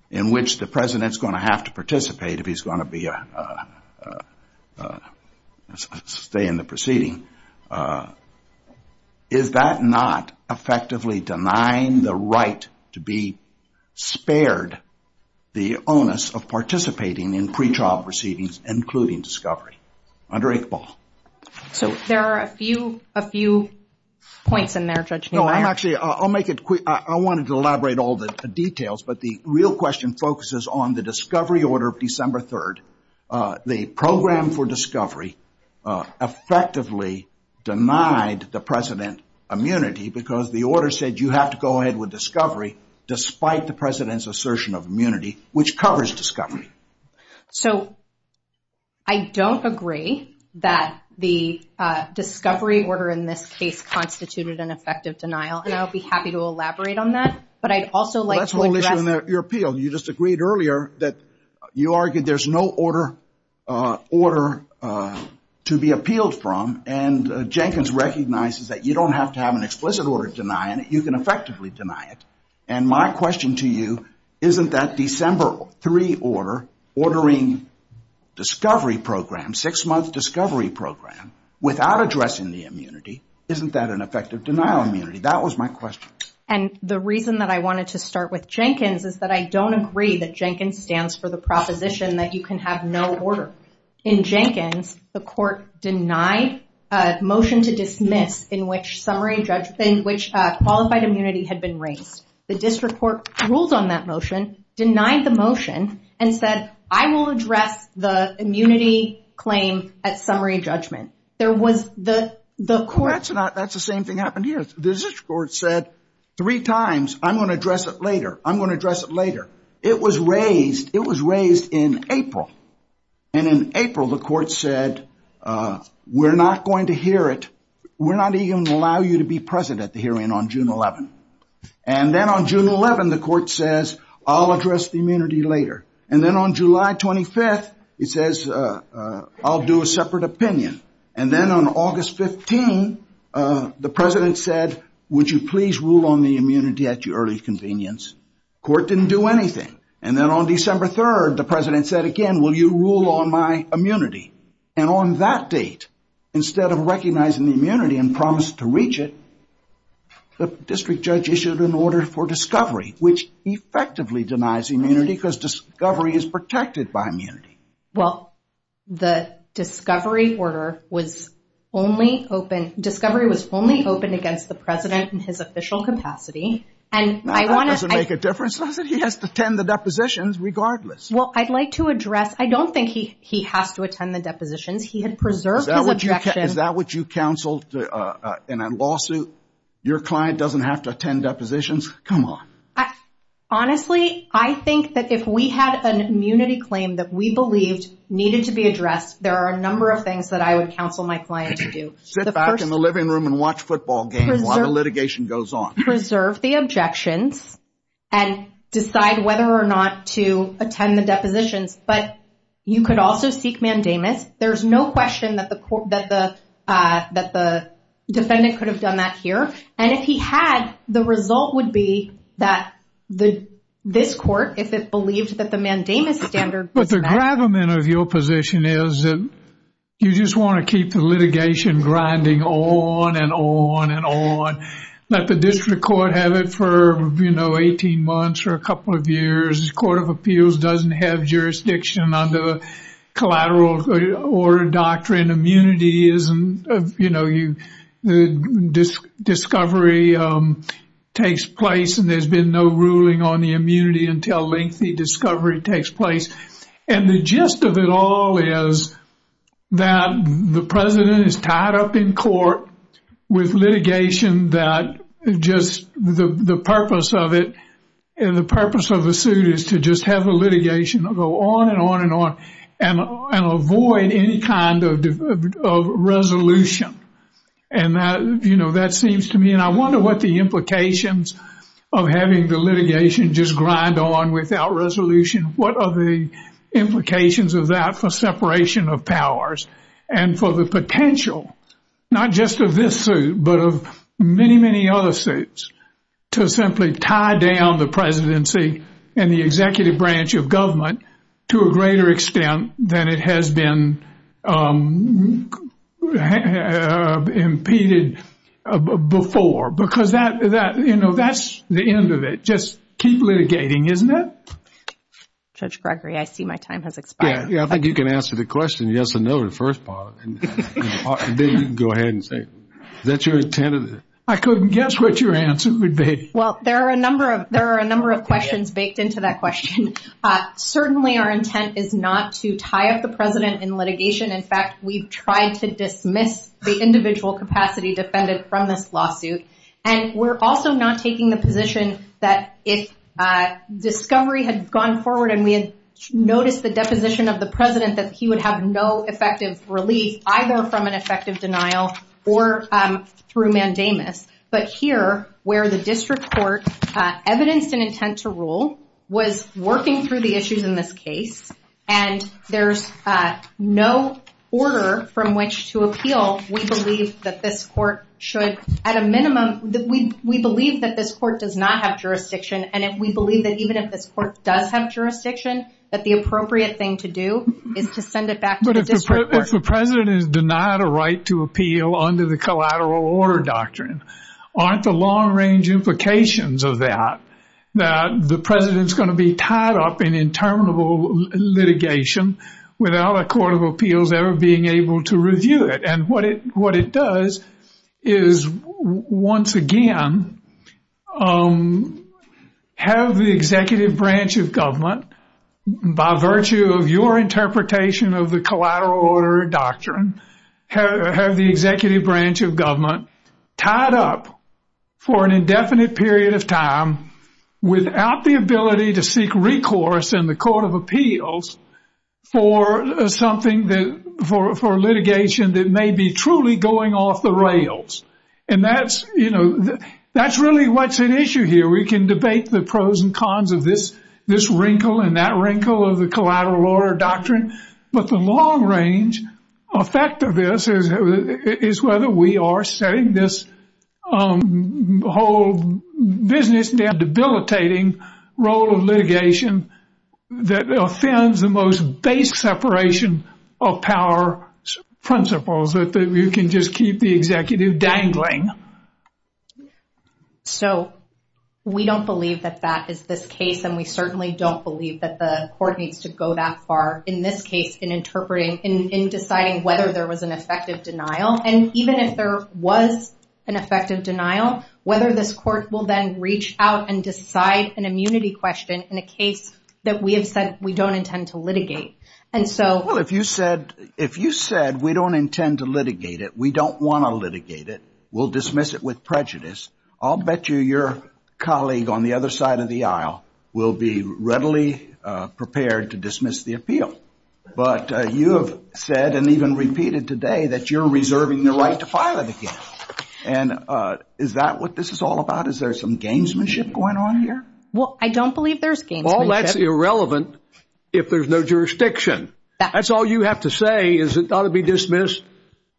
in which the president's going to have to participate if he's going to stay in the proceeding, is that not effectively denying the right to be spared the onus of participating in pretrial proceedings, including discovery? Under Iqbal. So there are a few points in there, Judge Neumann. No, I'm actually, I'll make it quick. I wanted to elaborate all the details, but the real question focuses on the discovery order of December 3rd. The program for discovery effectively denied the president immunity because the order said you have to go ahead with discovery despite the president's assertion of immunity, which covers discovery. So I don't agree that the discovery order in this case constituted an effective denial, and I'll be happy to elaborate on that, but I'd also like to address- Well, that's the whole issue in your appeal. You just agreed earlier that you argued there's no order to be appealed from, and Jenkins recognizes that you don't have to have an explicit order denying it. You can effectively deny it. And my question to you, isn't that December 3 order ordering discovery program, six-month discovery program, without addressing the immunity, isn't that an effective denial of immunity? That was my question. And the reason that I wanted to start with Jenkins is that I don't agree that Jenkins stands for the proposition that you can have no order. In Jenkins, the court denied a motion to dismiss in which qualified immunity had been raised. The district court ruled on that motion, denied the motion and said, I will address the immunity claim at summary judgment. There was the court- That's the same thing happened here. The district court said three times, I'm going to address it later. I'm going to address it later. It was raised in April. And in April, the court said, we're not going to hear it. We're not even going to allow you to be present at the hearing on June 11. And then on June 11, the court says, I'll address the immunity later. And then on July 25th, it says, I'll do a separate opinion. And then on August 15, the president said, would you please rule on the immunity at your early convenience? Court didn't do anything. And then on December 3rd, the president said again, will you rule on my immunity? And on that date, instead of recognizing the immunity and promise to reach it, the district judge issued an order for discovery, which effectively denies immunity because discovery is protected by immunity. Well, the discovery order was only open, discovery was only open against the president in his official capacity. And I want to- That doesn't make a difference, does it? He has to attend the depositions regardless. Well, I'd like to address, I don't think he has to attend the depositions. He had preserved his objection. Is that what you counseled in a lawsuit? Your client doesn't have to attend depositions? Come on. Honestly, I think that if we had an immunity claim that we believed needed to be addressed, there are a number of things that I would counsel my client to do. Sit back in the living room and watch football games while the litigation goes on. Preserve the objections and decide whether or not to attend the depositions. But you could also seek mandamus. There's no question that the defendant could have done that here. And if he had, the result would be that this court, if it believed that the mandamus standard- But the gravamen of your position is that you just want to keep the litigation grinding on and on and on. Let the district court have it for 18 months or a couple of years. This court of appeals doesn't have jurisdiction under the collateral order doctrine. Immunity isn't, you know, the discovery takes place and there's been no ruling on the immunity until lengthy discovery takes place. And the gist of it all is that the president is tied up in court with litigation that just the purpose of it and the purpose of the suit is to just have a litigation go on and on and on and avoid any kind of resolution. And that, you know, that seems to me, and I wonder what the implications of having the litigation just grind on without resolution. What are the implications of that for separation of powers and for the potential, not just of this suit, but of many, many other suits to simply tie down the presidency and the executive branch of government to a greater extent than it has been impeded before? Because that, you know, that's the end of it. Just keep litigating, isn't it? Judge Gregory, I see my time has expired. Yeah, I think you can answer the question, yes or no, the first part. Then you can go ahead and say, is that your intent? I couldn't guess what your answer would be. Well, there are a number of, there are a number of questions baked into that question. Certainly, our intent is not to tie up the president in litigation. In fact, we've tried to dismiss the individual capacity defended from this lawsuit. And we're also not taking the position that if Discovery had gone forward and we had noticed the deposition of the president, that he would have no effective relief, either from an effective denial or through mandamus. But here, where the district court evidenced an intent to rule was working through the issues in this case. And there's no order from which to appeal. We believe that this court should, at a minimum, we believe that this court does not have jurisdiction. And if we believe that even if this court does have jurisdiction, that the appropriate thing to do is to send it back to the district court. But if the president is denied a right to appeal under the collateral order doctrine, aren't the long range implications of that, that the president's going to be tied up in interminable litigation without a court of appeals ever being able to review it. And what it does is, once again, have the executive branch of government, by virtue of your interpretation of the collateral order doctrine, have the executive branch of government tied up for an indefinite period of time without the ability to seek recourse in the court of appeals for something that, for litigation that may be truly going off the rails. And that's, you know, that's really what's at issue here. We can debate the pros and cons of this wrinkle and that wrinkle of the collateral order doctrine. But the long range effect of this is whether we are setting this whole business that debilitating role of litigation that offends the most basic separation of power principles that you can just keep the executive dangling. So we don't believe that that is this case. And we certainly don't believe that the court needs to go that far in this case in interpreting, in deciding whether there was an effective denial. And even if there was an effective denial, whether this court will then reach out and decide an immunity question in a case that we have said we don't intend to litigate. And so if you said, if you said we don't intend to litigate it, we don't want to litigate it. We'll dismiss it with prejudice. I'll bet you your colleague on the other side of the aisle will be readily prepared to dismiss the appeal. But you have said and even repeated today that you're reserving the right to file it again. And is that what this is all about? Is there some gamesmanship going on here? Well, I don't believe there's gamesmanship. Well, that's irrelevant if there's no jurisdiction. That's all you have to say is it ought to be dismissed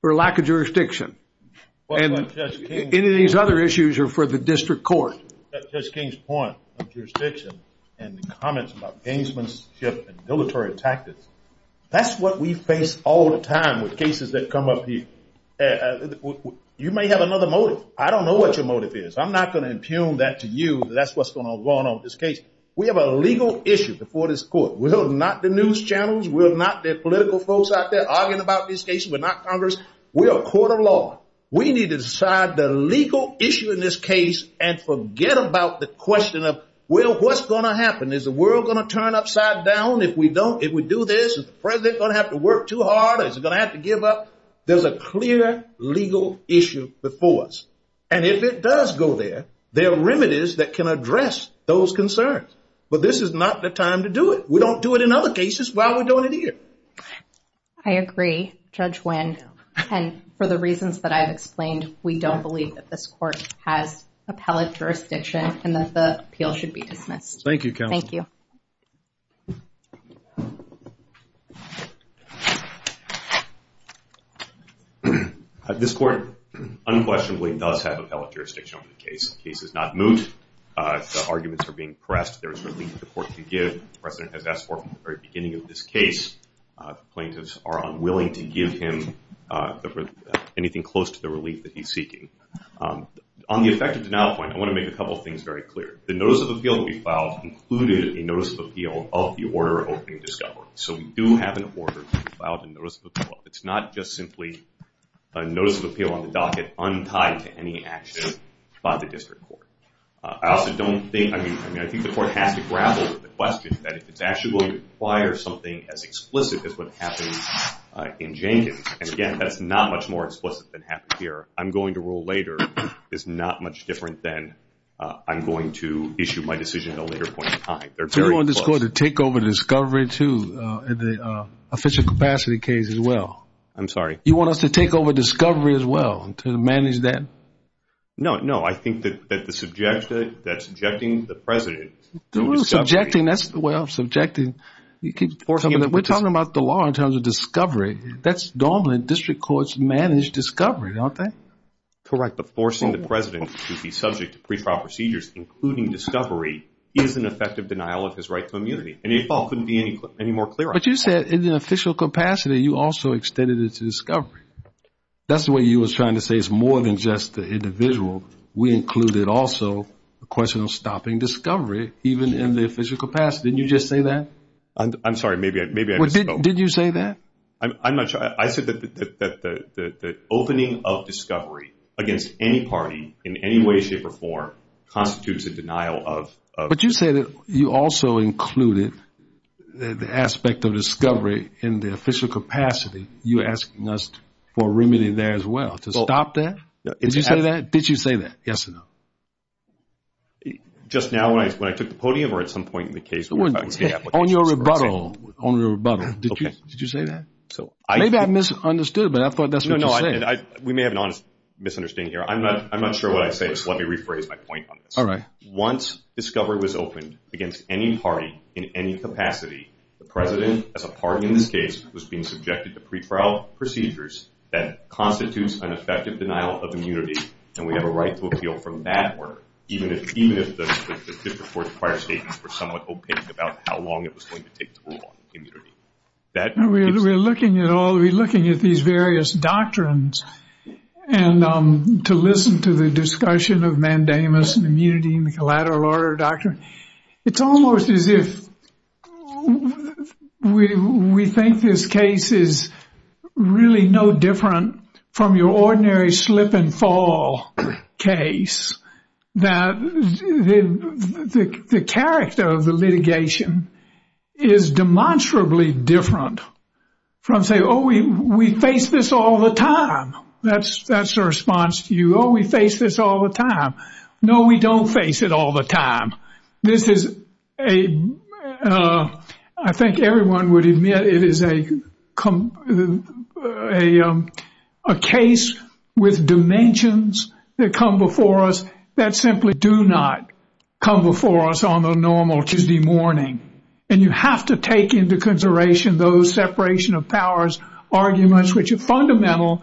for lack of jurisdiction. And any of these other issues are for the district court. At Judge King's point of jurisdiction and the comments about gamesmanship and military tactics, that's what we face all the time with cases that come up here. You may have another motive. I don't know what your motive is. I'm not going to impugn that to you. That's what's going on going on with this case. We have a legal issue before this court. We're not the news channels. We're not the political folks out there arguing about this case. We're not Congress. We're a court of law. We need to decide the legal issue in this case and forget about the question of, well, what's going to happen? Is the world going to turn upside down if we don't, if we do this? Is the president going to have to work too hard? Is he going to have to give up? There's a clear legal issue before us. And if it does go there, there are remedies that can address those concerns. But this is not the time to do it. We don't do it in other cases while we're doing it here. I agree, Judge Wynn. And for the reasons that I've explained, we don't believe that this court has appellate jurisdiction and that the appeal should be dismissed. Thank you, counsel. Thank you. This court unquestionably does have appellate jurisdiction on the case. The case is not moot. The arguments are being pressed. There is relief for the court to give. The president has asked for from the very beginning of this case. The plaintiffs are unwilling to give him anything close to the relief that he's seeking. On the effective denial point, I want to make a couple of things very clear. The notice of appeal that we filed included a notice of appeal of the order of opening discovery. So we do have an order to file a notice of appeal. It's not just simply a notice of appeal on the docket untied to any action by the district court. I also don't think, I mean, I think the court has to grapple with the question that if it's actually going to require something as explicit as what happened in Jenkins. And again, that's not much more explicit than happened here. I'm going to rule later is not much different than I'm going to issue my decision at a later point in time. They're very close. We want this court to take over the discovery too and the official capacity case as well. I'm sorry. You want us to take over discovery as well to manage that? No, no. I think that the subject, that's objecting the president. Subjecting, that's the way I'm subjecting. We're talking about the law in terms of discovery. That's dominant. District courts manage discovery, don't they? Correct. But forcing the president to be subject to pre-trial procedures, including discovery, is an effective denial of his right to immunity. And the default couldn't be any more clear. But you said in the official capacity, you also extended it to discovery. That's the way you was trying to say it's more than just the individual. We included also the question of stopping discovery, even in the official capacity. Didn't you just say that? I'm sorry. Maybe I misspoke. Did you say that? I'm not sure. I said that the opening of discovery against any party in any way, shape, or form constitutes a denial of... But you say that you also included the aspect of discovery in the official capacity. You're asking us for remedy there as well, to stop that. Did you say that? Did you say that? Yes or no? Just now when I took the podium or at some point in the case... On your rebuttal. On your rebuttal. Did you say that? Maybe I misunderstood, but I thought that's what you said. We may have an honest misunderstanding here. I'm not sure what I said, so let me rephrase my point on this. All right. Once discovery was opened against any party in any capacity, the president, as a party in this case, was being subjected to pre-trial procedures that constitutes an effective denial of immunity. And we have a right to appeal from that word, even if the district court's prior statements were somewhat opaque about how long it was going to take to rule on immunity. We're looking at all... We're looking at these various doctrines and to listen to the discussion of mandamus and immunity and the collateral order doctrine. It's almost as if we think this case is really no different from your ordinary slip and fall case. That the character of the litigation is demonstrably different from saying, oh, we face this all the time. That's the response to you. Oh, we face this all the time. No, we don't face it all the time. This is a... I think everyone would admit it is a case with dimensions that come before us that simply do not come before us on the normal Tuesday morning. And you have to take into consideration those separation of powers arguments which are fundamental,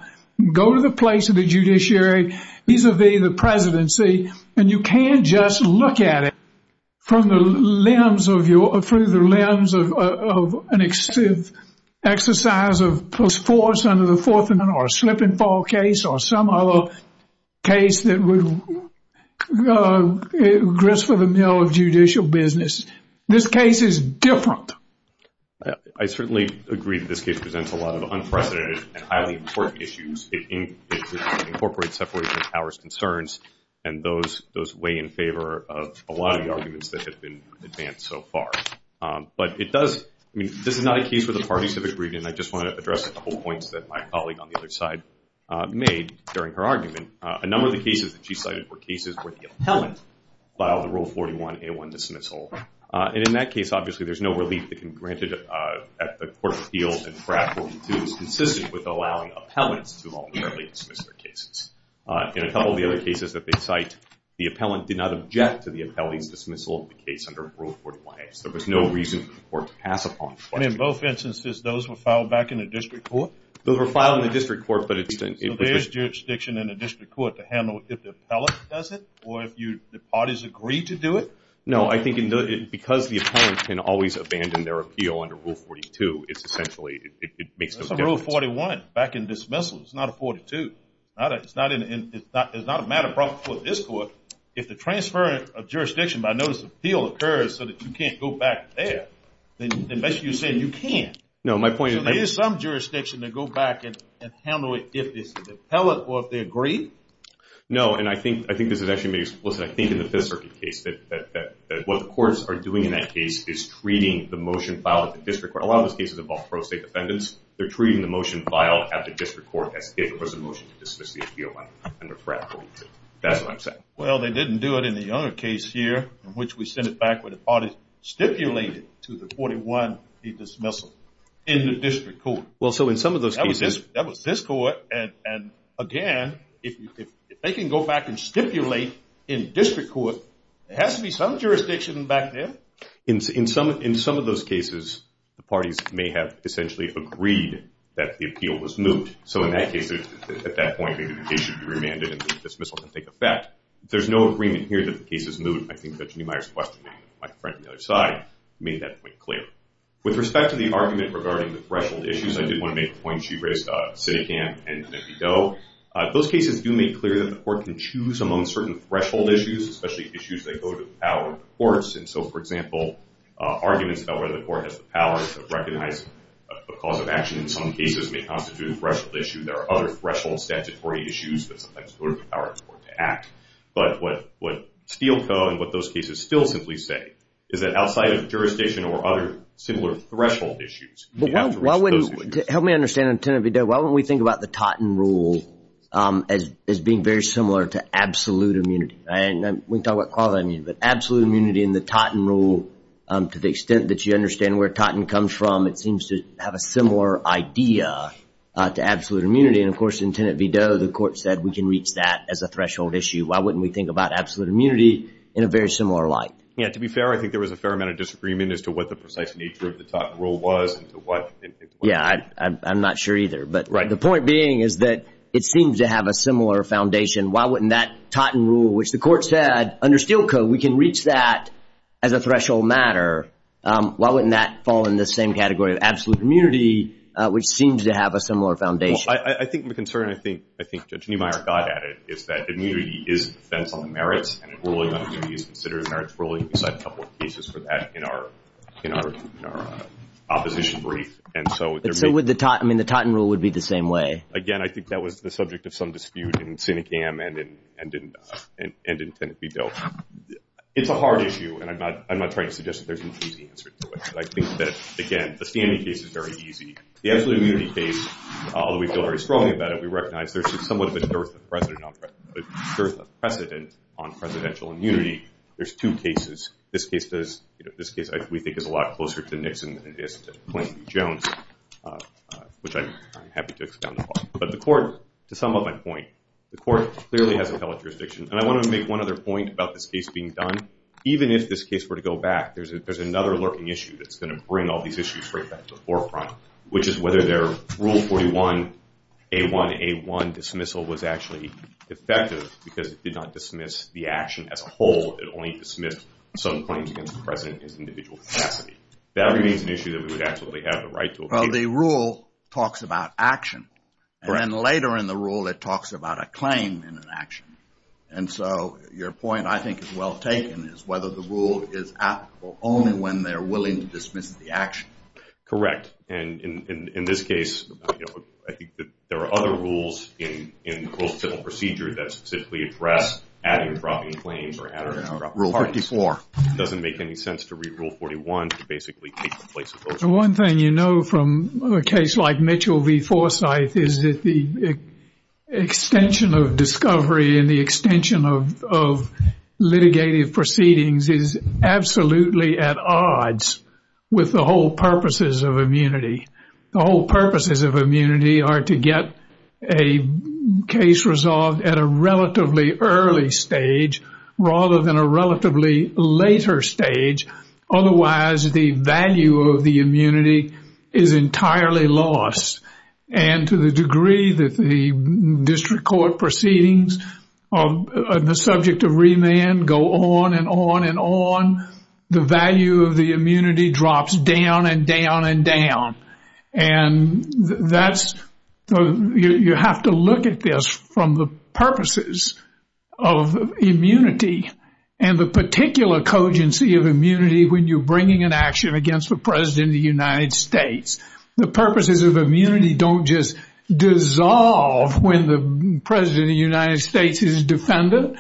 go to the place of the judiciary vis-a-vis the presidency and you can't just look at it from the limbs of your... through the limbs of an excessive exercise of force under the Fourth Amendment or a slip and fall case or some other case that would grist with the mill of judicial business. This case is different. I certainly agree that this case presents a lot of unprecedented and highly important issues in incorporating separation of powers concerns and those weigh in favor of a lot of the arguments that have been advanced so far. But it does... I mean, this is not a case where the parties have agreed and I just want to address a couple of points that my colleague on the other side made during her argument. A number of the cases that she cited were cases where the appellant filed the Rule 41A1 dismissal. And in that case, obviously there's no relief that can be granted at the court of appeals and FRAP 42 is consistent with allowing appellants to voluntarily dismiss their cases. In a couple of the other cases, the appellant did not object to the appellant's dismissal of the case under Rule 41A. So there was no reason for the court to pass upon it. And in both instances, those were filed back in the district court? Those were filed in the district court. So there's jurisdiction in the district court to handle if the appellant does it or if the parties agreed to do it? No, I think because the appellant can always abandon their appeal under Rule 42, it's essentially, it makes no difference. That's a Rule 41 back in dismissal. It's not a 42. It's not a matter brought before this court. If the transfer of jurisdiction by notice of appeal occurs so that you can't go back there, then unless you said you can't. No, my point is- There is some jurisdiction to go back and handle it if it's the appellant or if they agree? No, and I think this actually makes, listen, I think in the Fifth Circuit case that what the courts are doing in that case is treating the motion filed at the district court. A lot of those cases involve pro-state defendants. They're treating the motion filed at the district court as if it was a motion to dismiss the appeal under FRAT 42. That's what I'm saying. Well, they didn't do it in the Younger case here in which we sent it back where the party stipulated to the 41 the dismissal in the district court. Well, so in some of those cases- That was this court. And again, if they can go back and stipulate in district court, there has to be some jurisdiction back there. In some of those cases, the parties may have essentially agreed that the appeal was moot. So in that case, at that point, maybe the case should be remanded and the dismissal can take effect. There's no agreement here that the case is moot. I think that Jeannie Meyer's questioning my friend on the other side made that point clear. With respect to the argument regarding the threshold issues, I did want to make a point. She raised CITICAM and MEPI-DOE. Those cases do make clear that the court can choose among certain threshold issues, especially issues that go to the power of the courts. And so, for example, arguments about whether the court has the powers of recognizing a cause of action in some cases may constitute a threshold issue. There are other threshold statutory issues that sometimes go to the power of the court to act. But what Steelco and what those cases still simply say is that outside of jurisdiction or other similar threshold issues, you have to respect those issues. Help me understand, Lieutenant Video, why wouldn't we think about the Totten rule as being very similar to absolute immunity? And we can talk about quality immunity, but absolute immunity in the Totten rule, to the extent that you understand where Totten comes from, it seems to have a similar idea to absolute immunity. And of course, in Lieutenant Video, the court said we can reach that as a threshold issue. Why wouldn't we think about absolute immunity in a very similar light? Yeah, to be fair, I think there was a fair amount of disagreement as to what the precise nature of the Totten rule was. Yeah, I'm not sure either. But the point being is that it seems to have a similar foundation. Why wouldn't that Totten rule, which the court said under Steelco, we can reach that as a threshold matter. Why wouldn't that fall in the same category of absolute immunity, which seems to have a similar foundation? I think the concern, I think Judge Niemeyer got at it, is that immunity is a defense on the merits and ruling on immunity is considered merits ruling. We cited a couple of cases for that in our opposition brief. And so would the Totten rule would be the same way? Again, I think that was the subject of some dispute in Sinecam and in Lieutenant Video. It's a hard issue, and I'm not trying to suggest that there's an easy answer to it. I think that, again, the standing case is very easy. The absolute immunity case, although we feel very strongly about it, we recognize there's somewhat of a dearth of precedent on presidential immunity. There's two cases. This case, we think, is a lot closer to Nixon than it is to plainly Jones, which I'm happy to expound upon. But the court, to sum up my point, the court clearly hasn't held jurisdiction. And I want to make one other point about this case being done. Even if this case were to go back, there's another lurking issue that's going to bring all these issues straight back to the forefront, which is whether their rule 41, A1, A1 dismissal was actually effective because it did not dismiss the action as a whole. It only dismissed some claims against the president in his individual capacity. That remains an issue that we would absolutely have the right to. Well, the rule talks about action. And then later in the rule, it talks about a claim in an action. And so your point, I think, is well taken, is whether the rule is applicable only when they're willing to dismiss the action. Correct. And in this case, I think that there are other rules in the gross civil procedure that specifically address adding or dropping claims or adding or dropping claims. Rule 54. It doesn't make any sense to read rule 41 to basically take the place of those rules. One thing you know from a case like Mitchell v. Forsythe is that the extension of discovery and the extension of litigative proceedings is absolutely at odds with the whole purposes of immunity. The whole purposes of immunity are to get a case resolved at a relatively early stage rather than a relatively later stage. Otherwise, the value of the immunity is entirely lost. And to the degree that the district court proceedings on the subject of remand go on and on and on, the value of the immunity drops down and down and down. And you have to look at this from the purposes of immunity and the particular cogency of immunity when you're bringing an action against the President of the United States. The purposes of immunity don't just dissolve when the President of the United States is a defendant.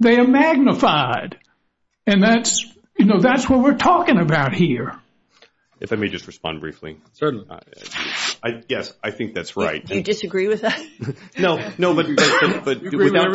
They are magnified. And that's, you know, that's what we're talking about here. If I may just respond briefly. Certainly. Yes, I think that's right. Do you disagree with us? No, no, but without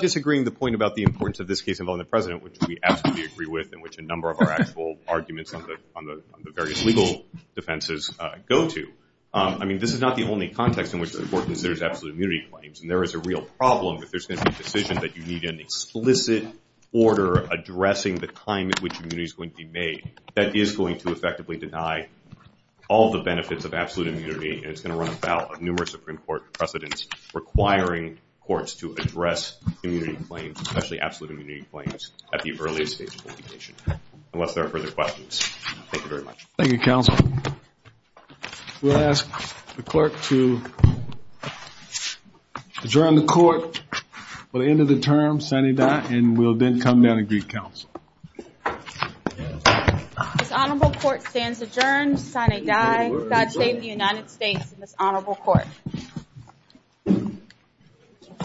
disagreeing the point about the importance of this case involving the President, which we absolutely agree with and which a number of our actual arguments on the various legal defenses go to. I mean, this is not the only context in which the court considers absolute immunity claims. And there is a real problem if there's going to be a decision that you need an explicit order addressing the claim at which immunity is going to be made that is going to effectively deny all the benefits of absolute immunity. And it's going to run about a numerous Supreme Court precedence requiring courts to address immunity claims, especially absolute immunity claims at the earliest stage of litigation. Unless there are further questions. Thank you very much. Thank you, counsel. We'll ask the clerk to adjourn the court for the end of the term. Signing that and we'll then come down and greet counsel. This honorable court stands adjourned. Signing die. God save the United States and this honorable court.